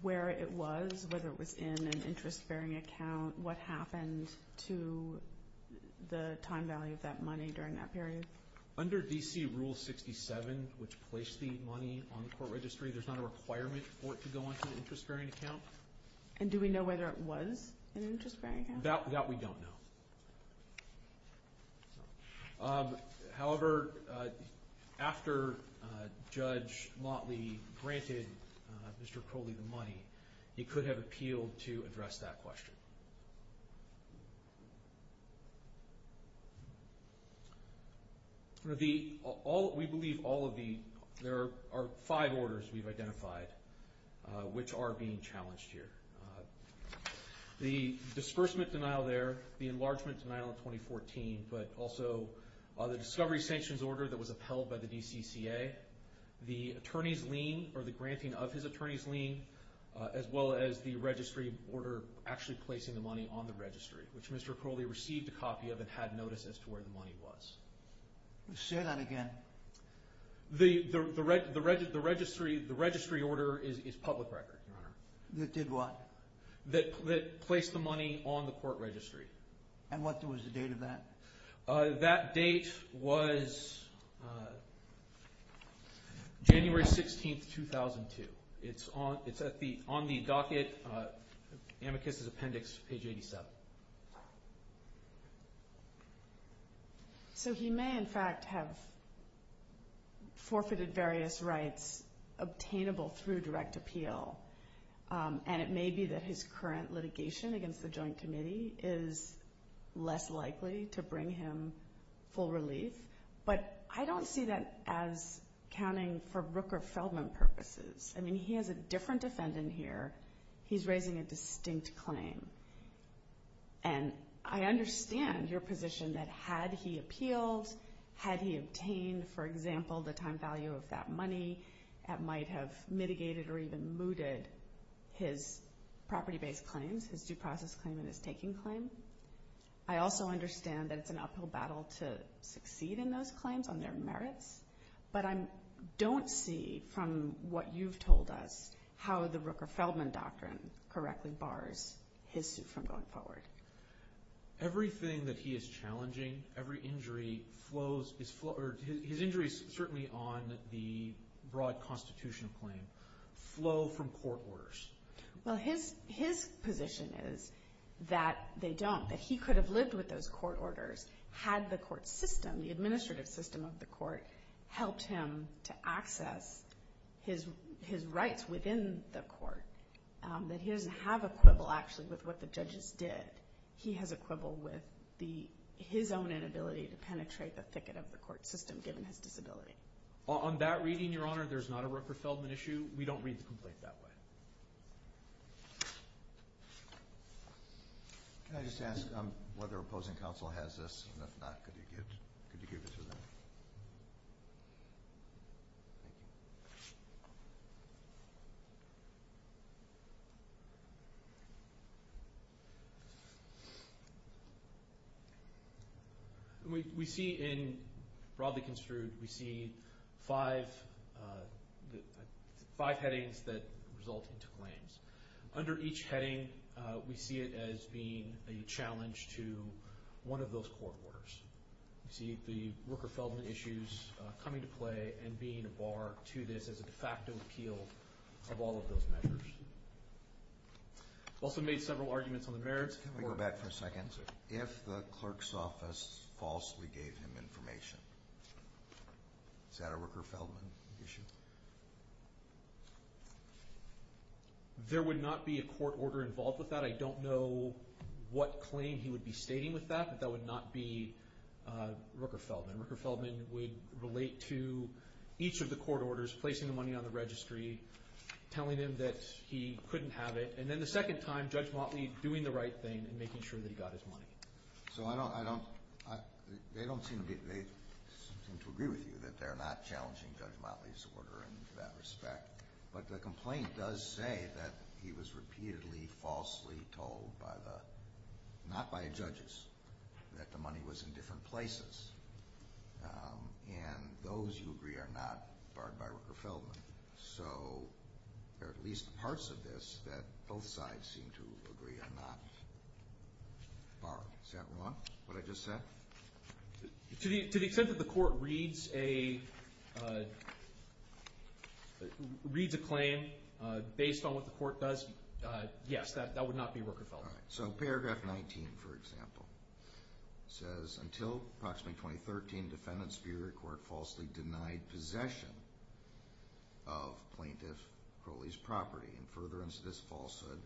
where it was, whether it was in an interest-bearing account, what happened to the time value of that money during that period? Under D.C. Rule 67, which placed the money on court registry, there's not a requirement for it to go into an interest-bearing account. And do we know whether it was an interest-bearing account? That we don't know. However, after Judge Motley granted Mr. Crowley the money, he could have appealed to address that question. We believe there are five orders we've identified which are being challenged here. The disbursement denial there, the enlargement denial in 2014, but also the discovery sanctions order that was upheld by the DCCA, the attorney's lien, or the granting of his attorney's lien, as well as the registry order actually placing the money on the registry, which Mr. Crowley received a copy of and had notice as to where the money was. Say that again. The registry order is public record. That did what? That placed the money on the court registry. And what was the date of that? That date was January 16, 2002. It's on the docket, amicus is appendix 87. So he may, in fact, have forfeited various rights obtainable through direct appeal. And it may be that his current litigation against the Joint Committee is less likely to bring him full relief. But I don't see that as accounting for Rooker-Feldman purposes. I mean, he has a different defendant here. He's raising a distinct claim. And I understand your position that had he appealed, had he obtained, for example, the time value of that money, that might have mitigated or even mooted his property-based claims, his due process claim and his taking claim. I also understand that it's an uphill battle to succeed in those claims on their merits. But I don't see, from what you've told us, how the Rooker-Feldman doctrine correctly bars his suit from going forward. Everything that he is challenging, every injury flows, his injuries certainly on the broad constitution claim, flow from court orders. Well, his position is that they don't. That he could have lived with those court orders had the court system, the administrative system of the court, helped him to access his rights within the court. That he doesn't have a quibble, actually, with what the judges did. He has a quibble with his own inability to penetrate the thicket of the court system, given his disability. On that reading, Your Honor, there's not a Rooker-Feldman issue. We don't read the complaint that way. Thank you. Can I just ask whether opposing counsel has this, and if not, could you give it to them? We see in broadly construed, we see five headings that result in claims. Under each heading, we see it as being a challenge to one of those court orders. We see the Rooker-Feldman issues come into play and being a bar to this as a de facto appeal of all of those matters. Also made several arguments on the merits. Can we go back for a second? If the clerk's office falsely gave him information, is that a Rooker-Feldman issue? There would not be a court order involved with that. I don't know what claim he would be stating with that, but that would not be Rooker-Feldman. Rooker-Feldman would relate to each of the court orders, placing the money on the registry, telling him that he couldn't have it, and then the second time, Judge Motley doing the right thing and making sure that he got his money. So they don't seem to agree with you that they're not challenging Judge Motley's order in that respect. But the complaint does say that he was repeatedly falsely told, not by the judges, that the money was in different places. And those who agree are not barred by Rooker-Feldman. So there are at least parts of this that both sides seem to agree are not barred. Does that answer what I just said? To the extent that the court reads a claim based on what the court does, yes, that would not be Rooker-Feldman. So paragraph 19, for example, says, Until approximately 2013, the defendant's superior court falsely denied possession of plaintiff Crowley's property. In furtherance of this falsehood,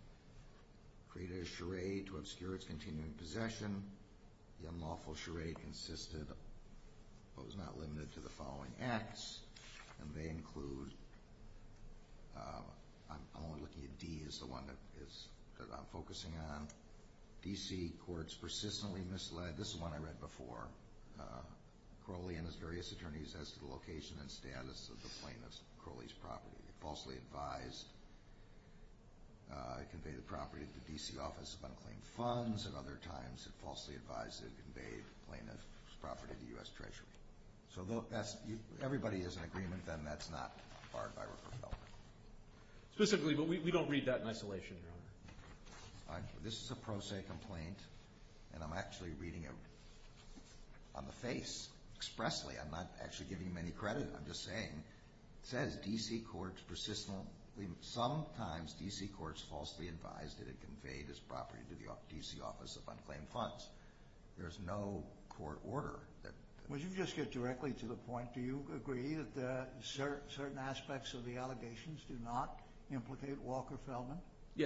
created a charade to obscure its continuing possession. The unlawful charade consisted of what was not limited to the following acts, and they include, I'm only looking at D as the one that is, I'm focusing on, D.C. courts persistently misled, this is the one I read before, Crowley and his various attorneys as to the location and status of the plaintiff's property. Falsely advised to convey the property to the D.C. Office of Unclaimed Funds, and other times falsely advised to convey the plaintiff's property to U.S. Treasury. So everybody is in agreement then that's not barred by Rooker-Feldman. Specifically, but we don't read that in isolation. This is a pro se complaint, and I'm actually reading it on the face, expressly. I'm not actually giving him any credit, I'm just saying, it says D.C. courts persistently, sometimes D.C. courts falsely advised that it convey this property to the D.C. Office of Unclaimed Funds. There's no court order. Would you just get directly to the point, do you agree that certain aspects of the allegations do not implicate Walker-Feldman?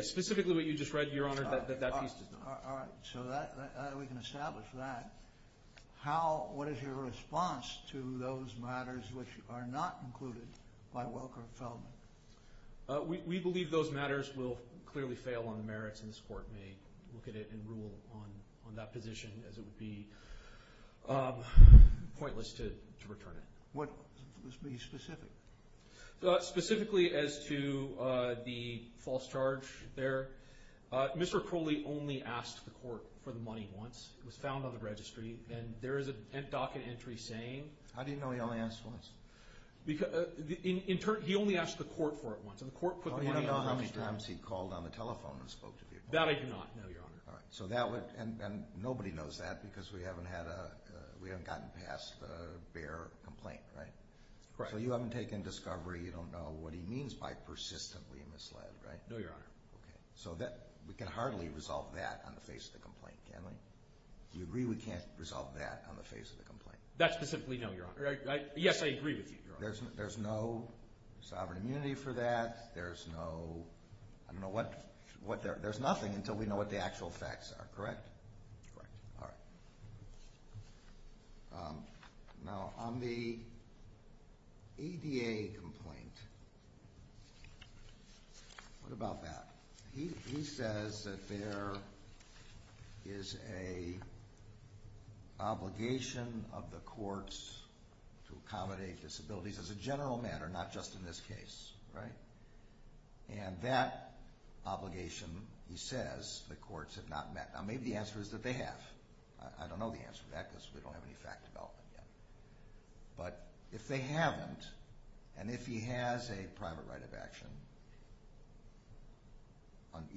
Specifically what you just read, Your Honor, that that piece does not. All right, so we can establish that. What is your response to those matters which are not included by Walker-Feldman? We believe those matters will clearly fail on merits, and this court may look at it and rule on that position as it would be pointless to return it. What would be specific? Specifically as to the false charge there, Mr. Crowley only asked the court for the money once. It was found on the registry, and there is a docket entry saying... How do you know he only asked once? In turn, he only asked the court for it once, and the court put the money on the registry. I don't know how many times he called on the telephone and spoke to people. That I do not know, Your Honor. And nobody knows that because we haven't gotten past a fair complaint, right? Right. So you haven't taken discovery. You don't know what he means by persistently misled, right? No, Your Honor. Okay. So we can hardly resolve that on the face of the complaint, can we? Do you agree we can't resolve that on the face of the complaint? That specifically, no, Your Honor. Yes, I agree with you, Your Honor. There's no sovereign immunity for that. There's no... I don't know what... There's nothing until we know what the actual facts are, correct? Correct. All right. Now, on the ADA complaint, what about that? He says that there is an obligation of the courts to accommodate disabilities as a general matter, not just in this case, right? And that obligation, he says, the courts have not met. Now, maybe the answer is that they have. I don't know the answer to that because we don't have any facts about them yet. But if they haven't, and if he has a private right of action,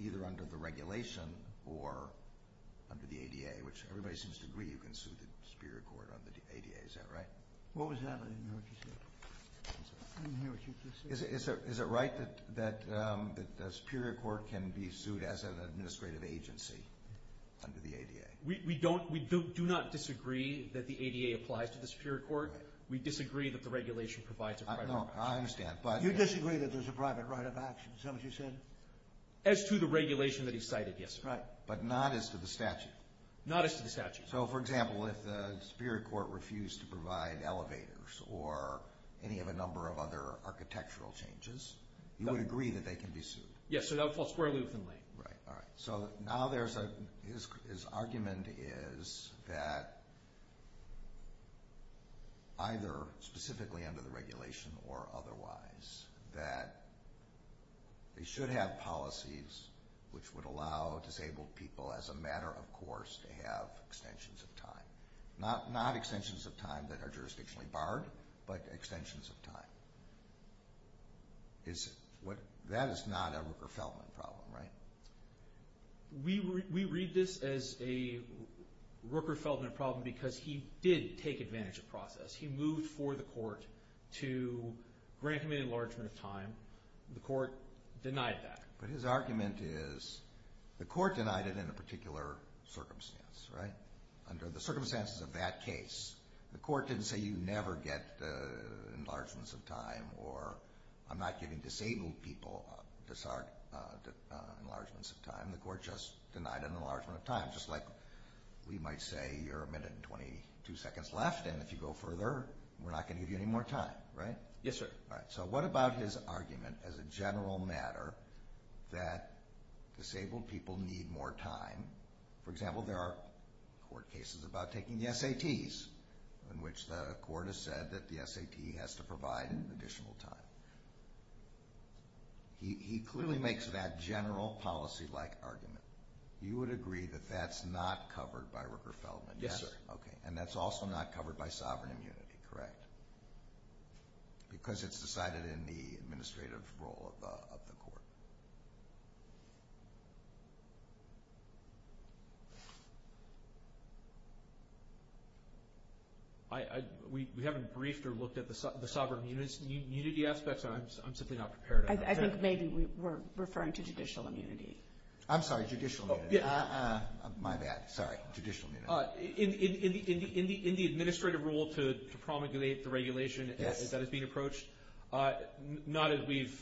either under the regulation or under the ADA, which everybody seems to agree you can sue the Superior Court under the ADA. Is that right? What was that? Is it right that the Superior Court can be sued as an administrative agency under the ADA? We do not disagree that the ADA applies to the Superior Court. We disagree that the regulation provides a private right of action. I understand, but... You disagree that there's a private right of action, is that what you're saying? As to the regulation that he cited, yes. But not as to the statute? Not as to the statute. So, for example, if the Superior Court refused to provide elevators or any of a number of other architectural changes, you would agree that they can be sued? Yes, so that would fall squarely within the law. Right, all right. So now his argument is that, either specifically under the regulation or otherwise, that they should have policies which would allow disabled people, as a matter of course, to have extensions of time. Not extensions of time that are jurisdictionally barred, but extensions of time. That is not a Rooker-Feldman problem, right? We read this as a Rooker-Feldman problem because he did take advantage of process. He moved for the court to grant him an enlargement of time. The court denied that. But his argument is, the court denied it in a particular circumstance, right? Under the circumstances of that case, the court didn't say you never get enlargements of time. Or, I'm not giving disabled people enlargements of time. The court just denied an enlargement of time. Just like we might say, you're a minute and 22 seconds left, and if you go further, we're not going to give you any more time, right? Yes, sir. All right, so what about his argument, as a general matter, that disabled people need more time? For example, there are court cases about taking the SATs, in which the court has said that the SAT has to provide an additional time. He clearly makes that general policy-like argument. You would agree that that's not covered by Rooker-Feldman, yes? Yes, sir. Okay, and that's also not covered by sovereign immunity, correct? Because it's decided in the administrative role of the court. We haven't briefed or looked at the sovereign immunity aspect, so I'm simply not prepared on that. I think maybe we're referring to judicial immunity. I'm sorry, judicial immunity. My bad. Sorry. Judicial immunity. In the administrative role to promulgate the regulation that is being approached, not as we've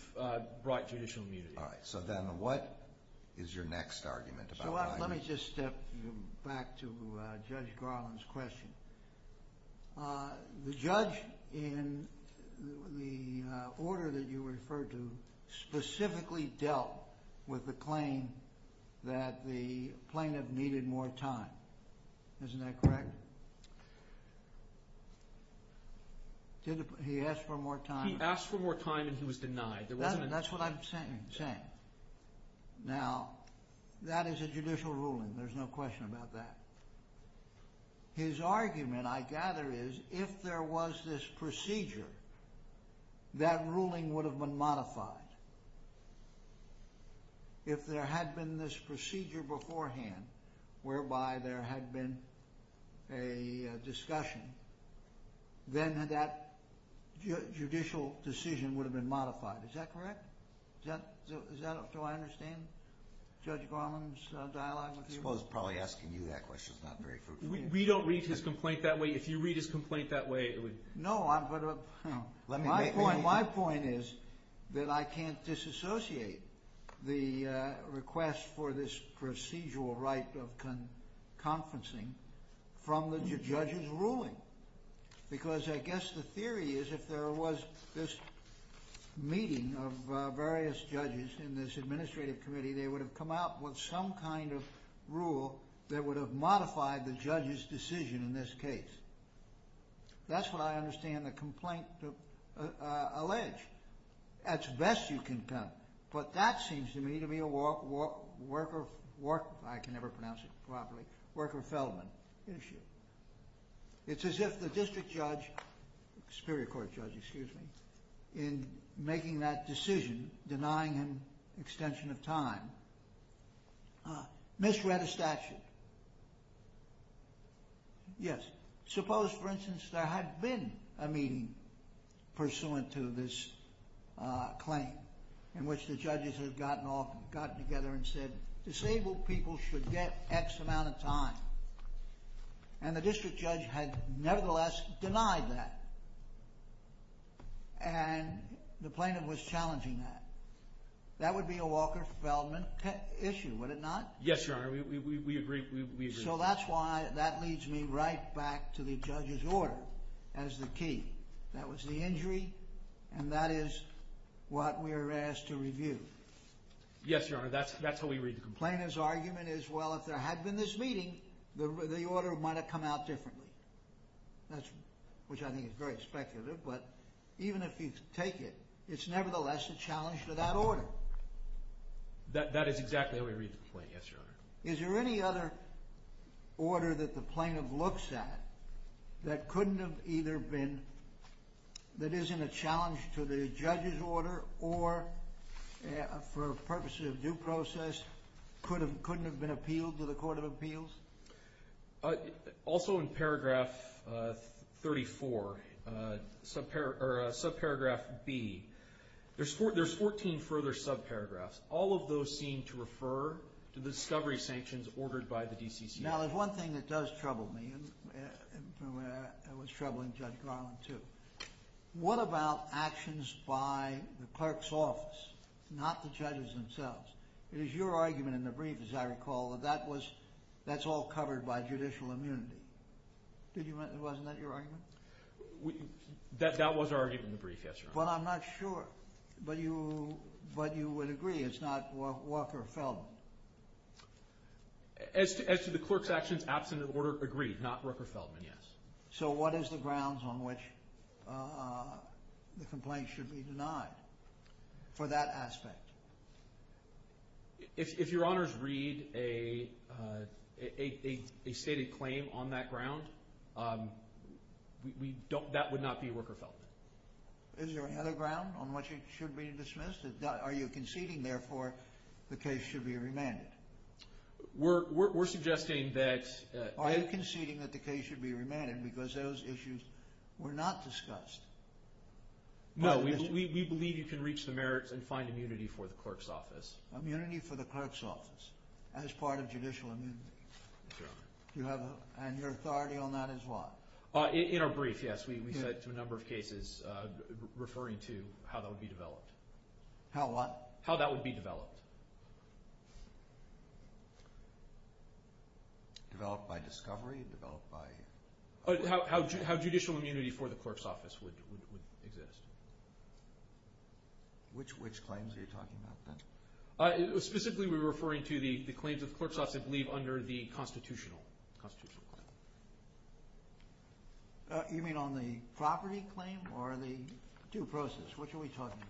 brought judicial immunity. All right, so then what is your next argument? Let me just step back to Judge Garland's question. The judge in the order that you referred to specifically dealt with the claim that the plaintiff needed more time. Isn't that correct? He asked for more time. He asked for more time, and he was denied. That's what I'm saying. Now, that is a judicial ruling. There's no question about that. His argument, I gather, is if there was this procedure, that ruling would have been modified. If there had been this procedure beforehand, whereby there had been a discussion, then that judicial decision would have been modified. Is that correct? Do I understand Judge Garland's dialogue with you? I suppose probably asking you that question is not very... We don't read his complaint that way. If you read his complaint that way, it would... No, I'm going to... My point is that I can't disassociate the request for this procedural right of conferencing from the judge's ruling. Because I guess the theory is if there was this meeting of various judges in this administrative committee, they would have come out with some kind of rule that would have modified the judge's decision in this case. That's what I understand the complaint alleged. At best, you can tell. But that seems to me to be a worker... I can never pronounce it properly. Worker-felon issue. It's as if the district judge, Superior Court judge, excuse me, in making that decision, denying an extension of time, misread a statute. Yes. Suppose, for instance, there had been a meeting pursuant to this claim, in which the judges had gotten together and said, Disabled people should get X amount of time. And the district judge had nevertheless denied that. And the plaintiff was challenging that. That would be a worker-felon issue, would it not? Yes, Your Honor. We agree. So that's why that leads me right back to the judge's order as the key. That was the injury, and that is what we were asked to review. Yes, Your Honor. That's what we reviewed. The plaintiff's argument is, well, if there had been this meeting, the order might have come out differently. Which I think is very speculative, but even if you take it, it's nevertheless a challenge to that order. That is exactly what we reviewed, Your Honor. Is there any other order that the plaintiff looks at that couldn't have either been... that isn't a challenge to the judge's order or for purposes of due process, couldn't have been appealed to the Court of Appeals? Also in paragraph 34, subparagraph B, there's 14 further subparagraphs. All of those seem to refer to the discovery sanctions ordered by the DCC. Now, there's one thing that does trouble me. It was troubling Judge Garland, too. What about actions by the clerk's office, not the judges themselves? It is your argument in the brief, as I recall, that that's all covered by judicial immunity. Wasn't that your argument? That was our argument in the brief, yes, Your Honor. But I'm not sure. But you would agree it's not Walker-Feldman? As to the clerk's actions, absent an order, agreed. Not Walker-Feldman, yes. So what is the grounds on which the complaint should be denied for that aspect? If Your Honors read a stated claim on that ground, that would not be Walker-Feldman. Is there another ground on which it should be dismissed? Are you conceding, therefore, the case should be remanded? We're suggesting that... I'm conceding that the case should be remanded because those issues were not discussed. No, we believe you can reach the merits and find immunity for the clerk's office. Immunity for the clerk's office as part of judicial immunity. And your authority on that is what? In our brief, yes, we had a number of cases referring to how that would be developed. How what? How that would be developed. Developed by discovery, developed by... How judicial immunity for the clerk's office would exist. Which claims are you talking about then? Specifically, we're referring to the claims of the clerk's office leave under the constitutional claim. You mean on the property claim or the due process? Which are we talking about?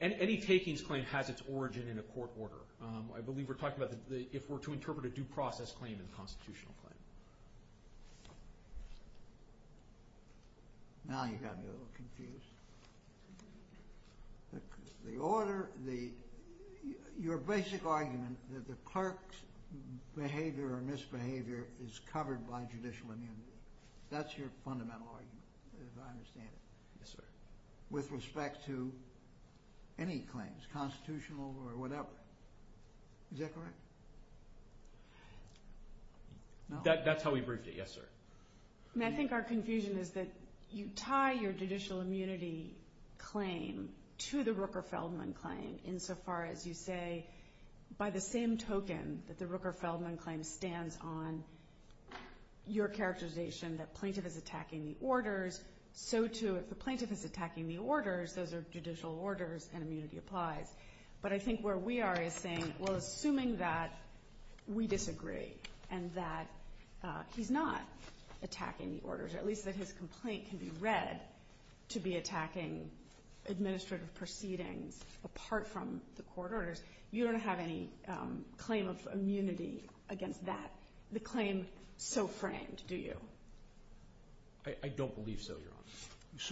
Any takings claim has its origin in a court order. I believe we're talking about if we're to interpret a due process claim in a constitutional claim. Now you got me a little confused. The order, your basic argument that the clerk's behavior or misbehavior is covered by judicial immunity. That's your fundamental argument, as I understand it. Yes, sir. With respect to any claims, constitutional or whatever. Is that correct? That's how we briefed you, yes, sir. I think our confusion is that you tie your judicial immunity claim to the Rooker-Feldman claim insofar as you say by the same token that the Rooker-Feldman claim stands on your characterization that plaintiff is attacking the orders. So, too, if the plaintiff is attacking the orders, those are judicial orders and immunity applies. But I think where we are is saying, well, assuming that we disagree and that he's not attacking the orders, at least that his complaint can be read to be attacking administrative proceedings apart from the court orders, you don't have any claim of immunity against that. The claim is so framed, do you? I don't believe so, Your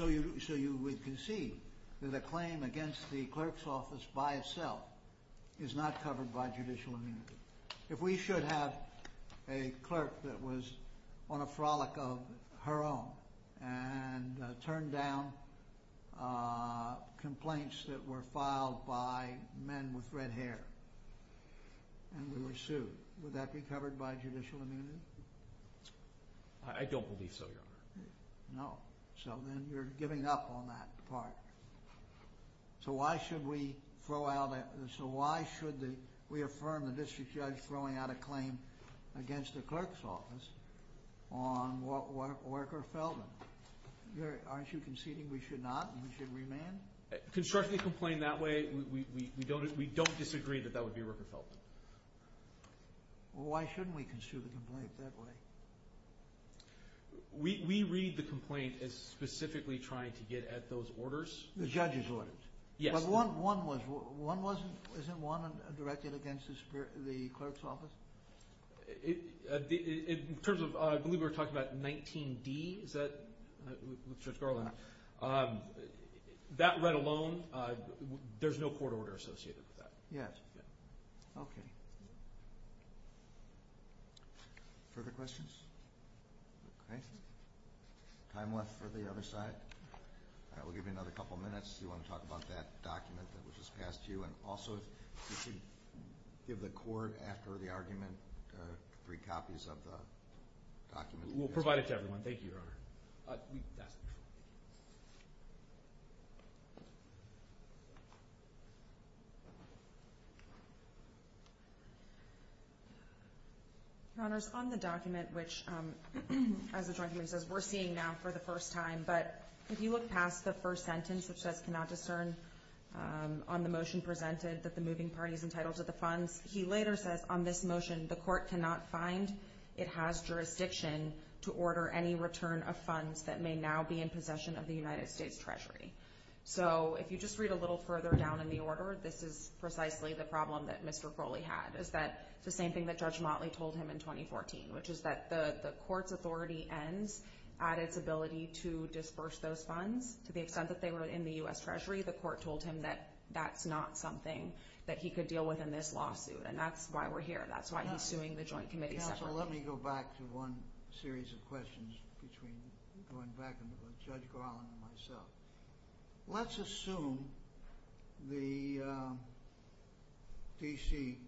Honor. So you would concede that a claim against the clerk's office by itself is not covered by judicial immunity. If we should have a clerk that was on a frolic of her own and turned down complaints that were filed by men with red hair and then we sued, would that be covered by judicial immunity? I don't believe so, Your Honor. No. So then you're giving up on that part. So why should we affirm the district judge throwing out a claim against the clerk's office on Worker Feldman? Aren't you conceding we should not and we should remand? Construct the complaint that way. We don't disagree that that would be Worker Feldman. Well, why shouldn't we concede the complaint that way? We read the complaint as specifically trying to get at those orders. The judge's orders? Yes. Isn't one directed against the clerk's office? In terms of, I believe we were talking about 19D, is that? That read alone, there's no court order associated with that. Yes. Okay. Further questions? Okay. Time left for the other side. We'll give you another couple of minutes. Do you want to talk about that document that was just passed to you? And also, if you give the court after the argument, three copies of the document. We'll provide it to everyone. Thank you, Your Honor. Your Honors, on the document which, as the judge here says, we're seeing now for the first time, but he was passed the first sentence, which says, cannot discern on the motion presented that the moving parties entitled to the funds. He later says on this motion, the court cannot find, it has jurisdiction to order any return of funds that may now be in possession of the United States Treasury. So if you just read a little further down in the order, this is precisely the problem that Mr. Crowley had, is that the same thing that Judge Motley told him in 2014, which is that the court's authority ends at its ability to disperse those funds. To the extent that they were in the U.S. Treasury, the court told him that that's not something that he could deal with in this lawsuit. And that's why we're here. That's why he's suing the joint committee. So let me go back to one series of questions between going back to Judge Garland and myself. Let's assume the D.C.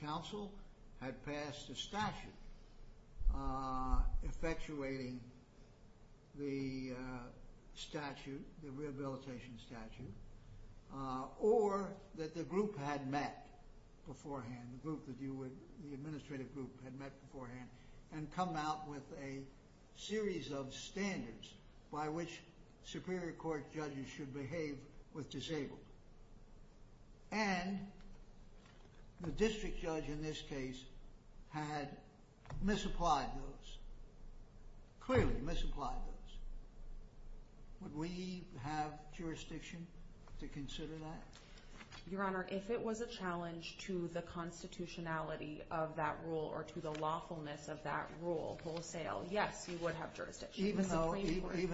Council had passed a statute effectuating the statute, the rehabilitation statute, or that the group had met beforehand, the group that you would, the administrative group had met beforehand and come out with a series of standards by which Superior Court judges should behave with disabled. And the district judge in this case had misapplied those, clearly misapplied those. Would we have jurisdiction to consider that? Your Honor, if it was a challenge to the constitutionality of that rule or to the lawfulness of that rule wholesale, yes, we would have jurisdiction. Even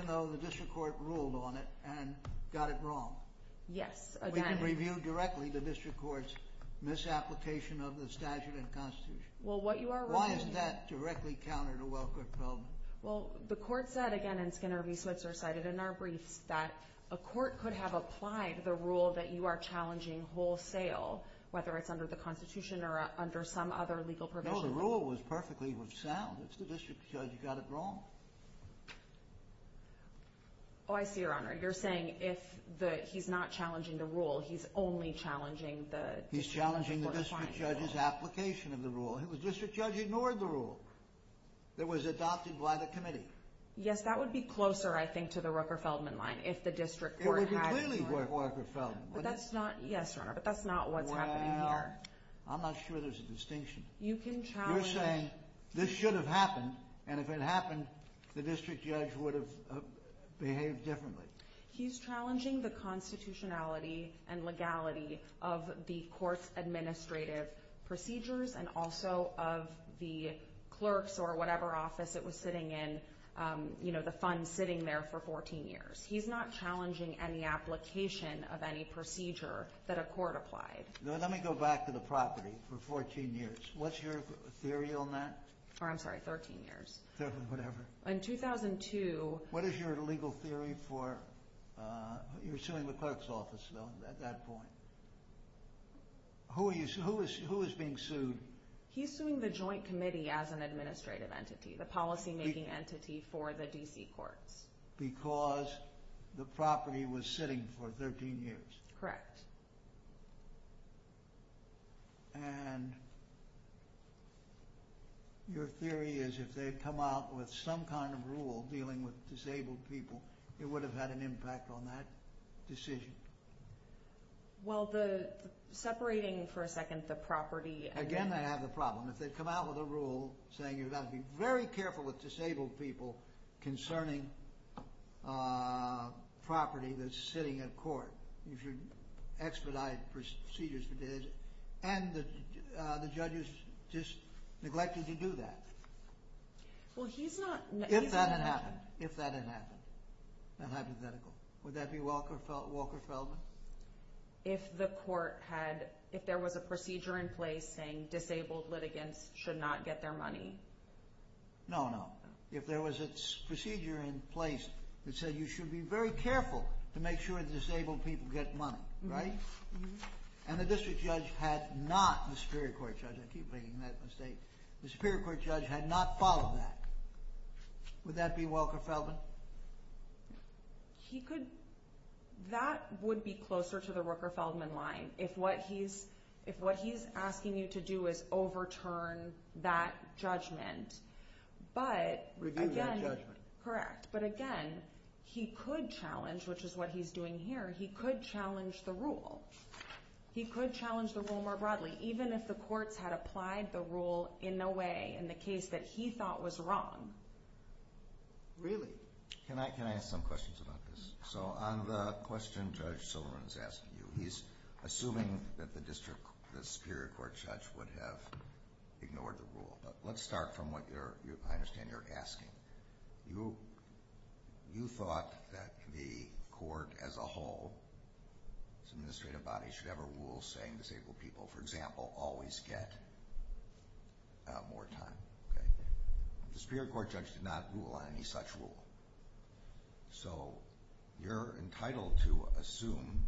though the district court ruled on it and got it wrong? Yes. We can review directly the district court's misapplication of the statute and constitution. Why is that directly counter to what could come? Well, the court said again, and Skinner v. Switzer cited in their brief that a court could have applied the rule that you are challenging wholesale, whether it's under the constitution or under some other legal provision. No, the rule was perfectly sound. It's the district judge who got it wrong. Oh, I see, Your Honor. You're saying if the, he's not challenging the rule, he's only challenging the. He's challenging the district judge's application of the rule. The district judge ignored the rule that was adopted by the committee. Yes, that would be closer, I think, to the Rupper-Feldman line if the district court. It would be clearly Rupper-Feldman. Yes, Your Honor, but that's not what's happening here. I'm not sure there's a distinction. You can challenge. You're saying this should have happened and if it happened, the district judge would have behaved differently. He's challenging the constitutionality and legality of the court's administrative procedures and also of the clerk's or whatever office it was sitting in, you know, the fund sitting there for 14 years. He's not challenging any application of any procedure that a court applied. Let me go back to the property for 14 years. What's your theory on that? I'm sorry, 13 years. Whatever. In 2002. What is your legal theory for your suing the clerk's office at that point? Who is being sued? He's suing the joint committee as an administrative entity, the policymaking entity for the D.C. court. Because the property was sitting for 13 years. Correct. And your theory is if they come out with some kind of rule dealing with disabled people, it would have had an impact on that decision. Well, the separating for a second the property. Again, I have a problem. If they come out with a rule saying you've got to be very careful with disabled people concerning property that's sitting at court, if you expedite procedures to do this, and the judge is just neglected to do that. Well, he's not. If that had happened. If that had happened. Would that be Walker Felden? If the court had, if there was a procedure in place saying disabled litigants should not get their money. No, no. If there was a procedure in place that said you should be very careful to make sure disabled people get money, right? And the district judge had not, the Superior Court judge, I keep making that mistake, the Superior Court judge had not followed that. Would that be Walker Felden? He could. That would be closer to the Rooker Feldman line. If what he's asking you to do is overturn that judgment. But again. Review that judgment. Correct. But again, he could challenge, which is what he's doing here, he could challenge the rule. He could challenge the rule more broadly. Even if the court had applied the rule in a way, in the case that he thought was wrong. Really? Can I ask some questions about this? So on the question Judge Sullivan is asking you, he's assuming that the district Superior Court judge would have ignored the rule. But let's start from what I understand you're asking. You thought that the court as a whole, as an administrative body, should ever rule saying disabled people, for example, always get more time. The Superior Court judge did not rule on any such rule. So you're entitled to assume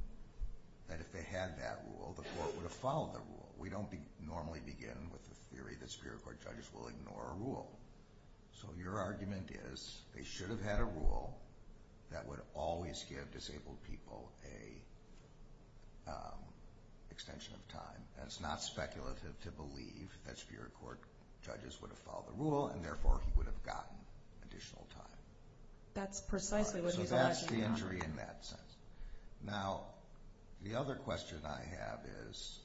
that if they had that rule, the court would have followed the rule. We don't normally begin with the theory the Superior Court judge will ignore a rule. So your argument is they should have had a rule that would always give disabled people an extension of time. That's not speculative to believe that Superior Court judges would have followed the rule and therefore he would have gotten additional time. That's precisely what he's asking. So that's the entry in that sense. Now, the other question I have is,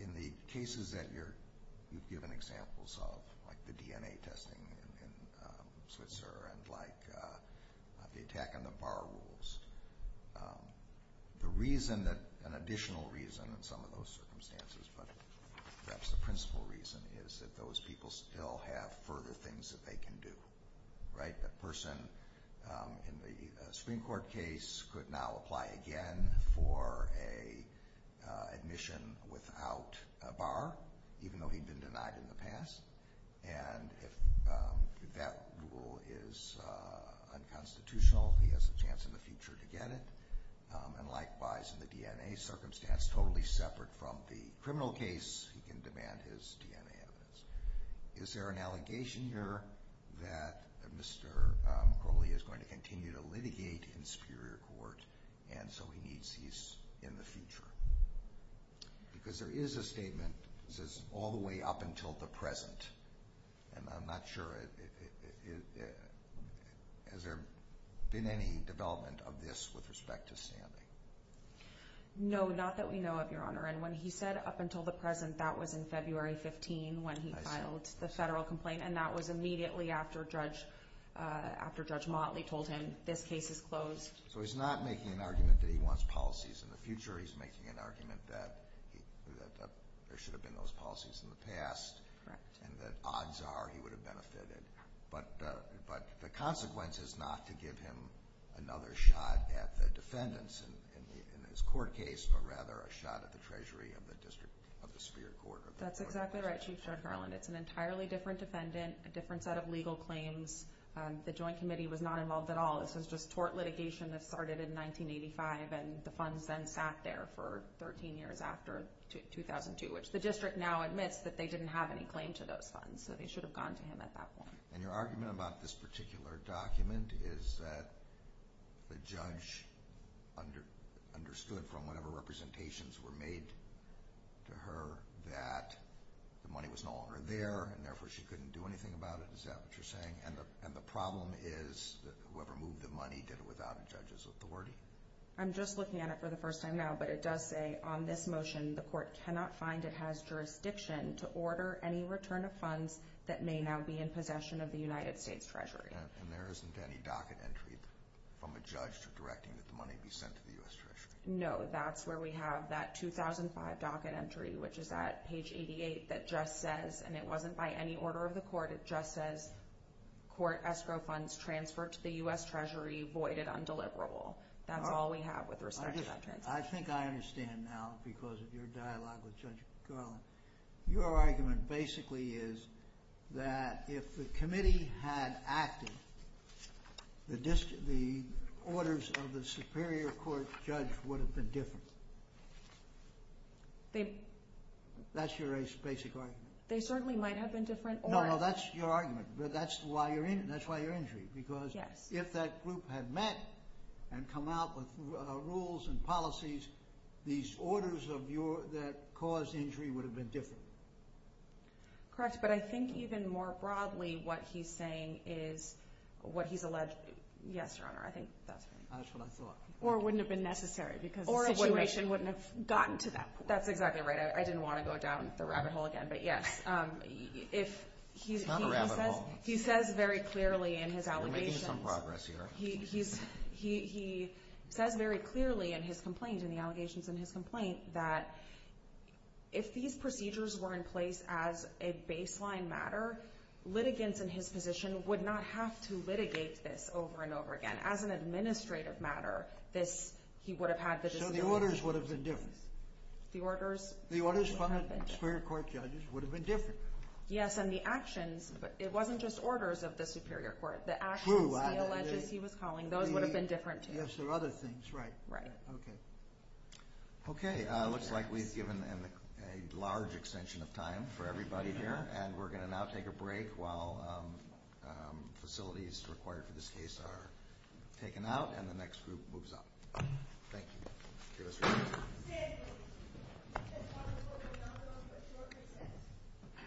in the cases that you've given examples of, like the DNA testing in Switzerland, like the attack on the bar rules, the reason that an additional reason in some of those circumstances, but that's the principal reason, is that those people still have further things that they can do, right? That person in the Supreme Court case could now apply again for a admission without a bar, even though he'd been denied in the past. And if that rule is unconstitutional, he has a chance in the future to get it. And likewise, in the DNA circumstance, totally separate from the criminal case, he can demand his DNA evidence. Is there an allegation here that Mr. Crowley is going to continue to litigate in Superior Court and so he needs these in the future? Because there is a statement that says, all the way up until the present. And I'm not sure, has there been any development of this with respect to Stanley? No, not that we know of, Your Honor. And when he said up until the present, that was in February 15 when he filed the federal complaint. And that was immediately after Judge Motley told him, this case is closed. So he's not making an argument that he wants policies in the future. He's making an argument that there should have been those policies in the past and that odds are he would have benefited. But the consequence is not to give him another shot at the defendants in his court case, but rather a shot at the Treasury and the District of the Superior Court. That's exactly right, Chief Judge Harland. It's an entirely different defendant, a different set of legal claims. The Joint Committee was not involved at all. Since the tort litigation that started in 1985, and the funds then sat there for 13 years after 2002, which the district now admits that they didn't have any claim to those funds. So they should have gone to him at that point. And your argument about this particular document is that the judge understood from whatever representations were made to her, that the money was no longer there, Is that what you're saying? And the problem is that whoever moved the money did it without the judge's authority? I'm just looking at it for the first time now, but it does say on this motion, the court cannot find it has jurisdiction to order any return of funds that may now be in possession of the United States Treasury. And there isn't any docket entry from a judge to directing that the money be sent to the U.S. Treasury? No, that's where we have that 2005 docket entry, which is at page 88 that just says, and it wasn't by any order of the court, but it just says, court escrow funds transferred to the U.S. Treasury voided undeliverable. That's all we have with respect to that. I think I understand now because of your dialogue with Judge McClellan. Your argument basically is that if the committee had acted, the orders of the superior court judge would have been different. That's your basic argument? They certainly might have been different orders. No, that's your argument. That's why you're injured. Because if that group had met and come out with rules and policies, these orders that caused injury would have been different. Correct, but I think even more broadly what he's saying is what he's alleged to be. Yes, Your Honor, I think that's right. That's what I thought. Or wouldn't have been necessary because the situation wouldn't have gotten to them. That's exactly right. I didn't want to go down the rabbit hole again. Not a rabbit hole. He says very clearly in his allegation. We're making some progress here. He says very clearly in his complaint, in the allegations in his complaint, that if these procedures were in place as a baseline matter, litigants in his position would not have to litigate this over and over again. As an administrative matter, he would have had this. So the orders would have been different. The orders? The orders from the Superior Court judges would have been different. Yes, and the actions, it wasn't just orders of the Superior Court. True. The actions he alleged he was calling, those would have been different, too. Yes, there are other things. Right. Right. Okay. Okay, looks like we've given a large extension of time for everybody here, and we're going to now take a break while facilities required for this case are taken out and the next group moves on. Thank you. Excuse me.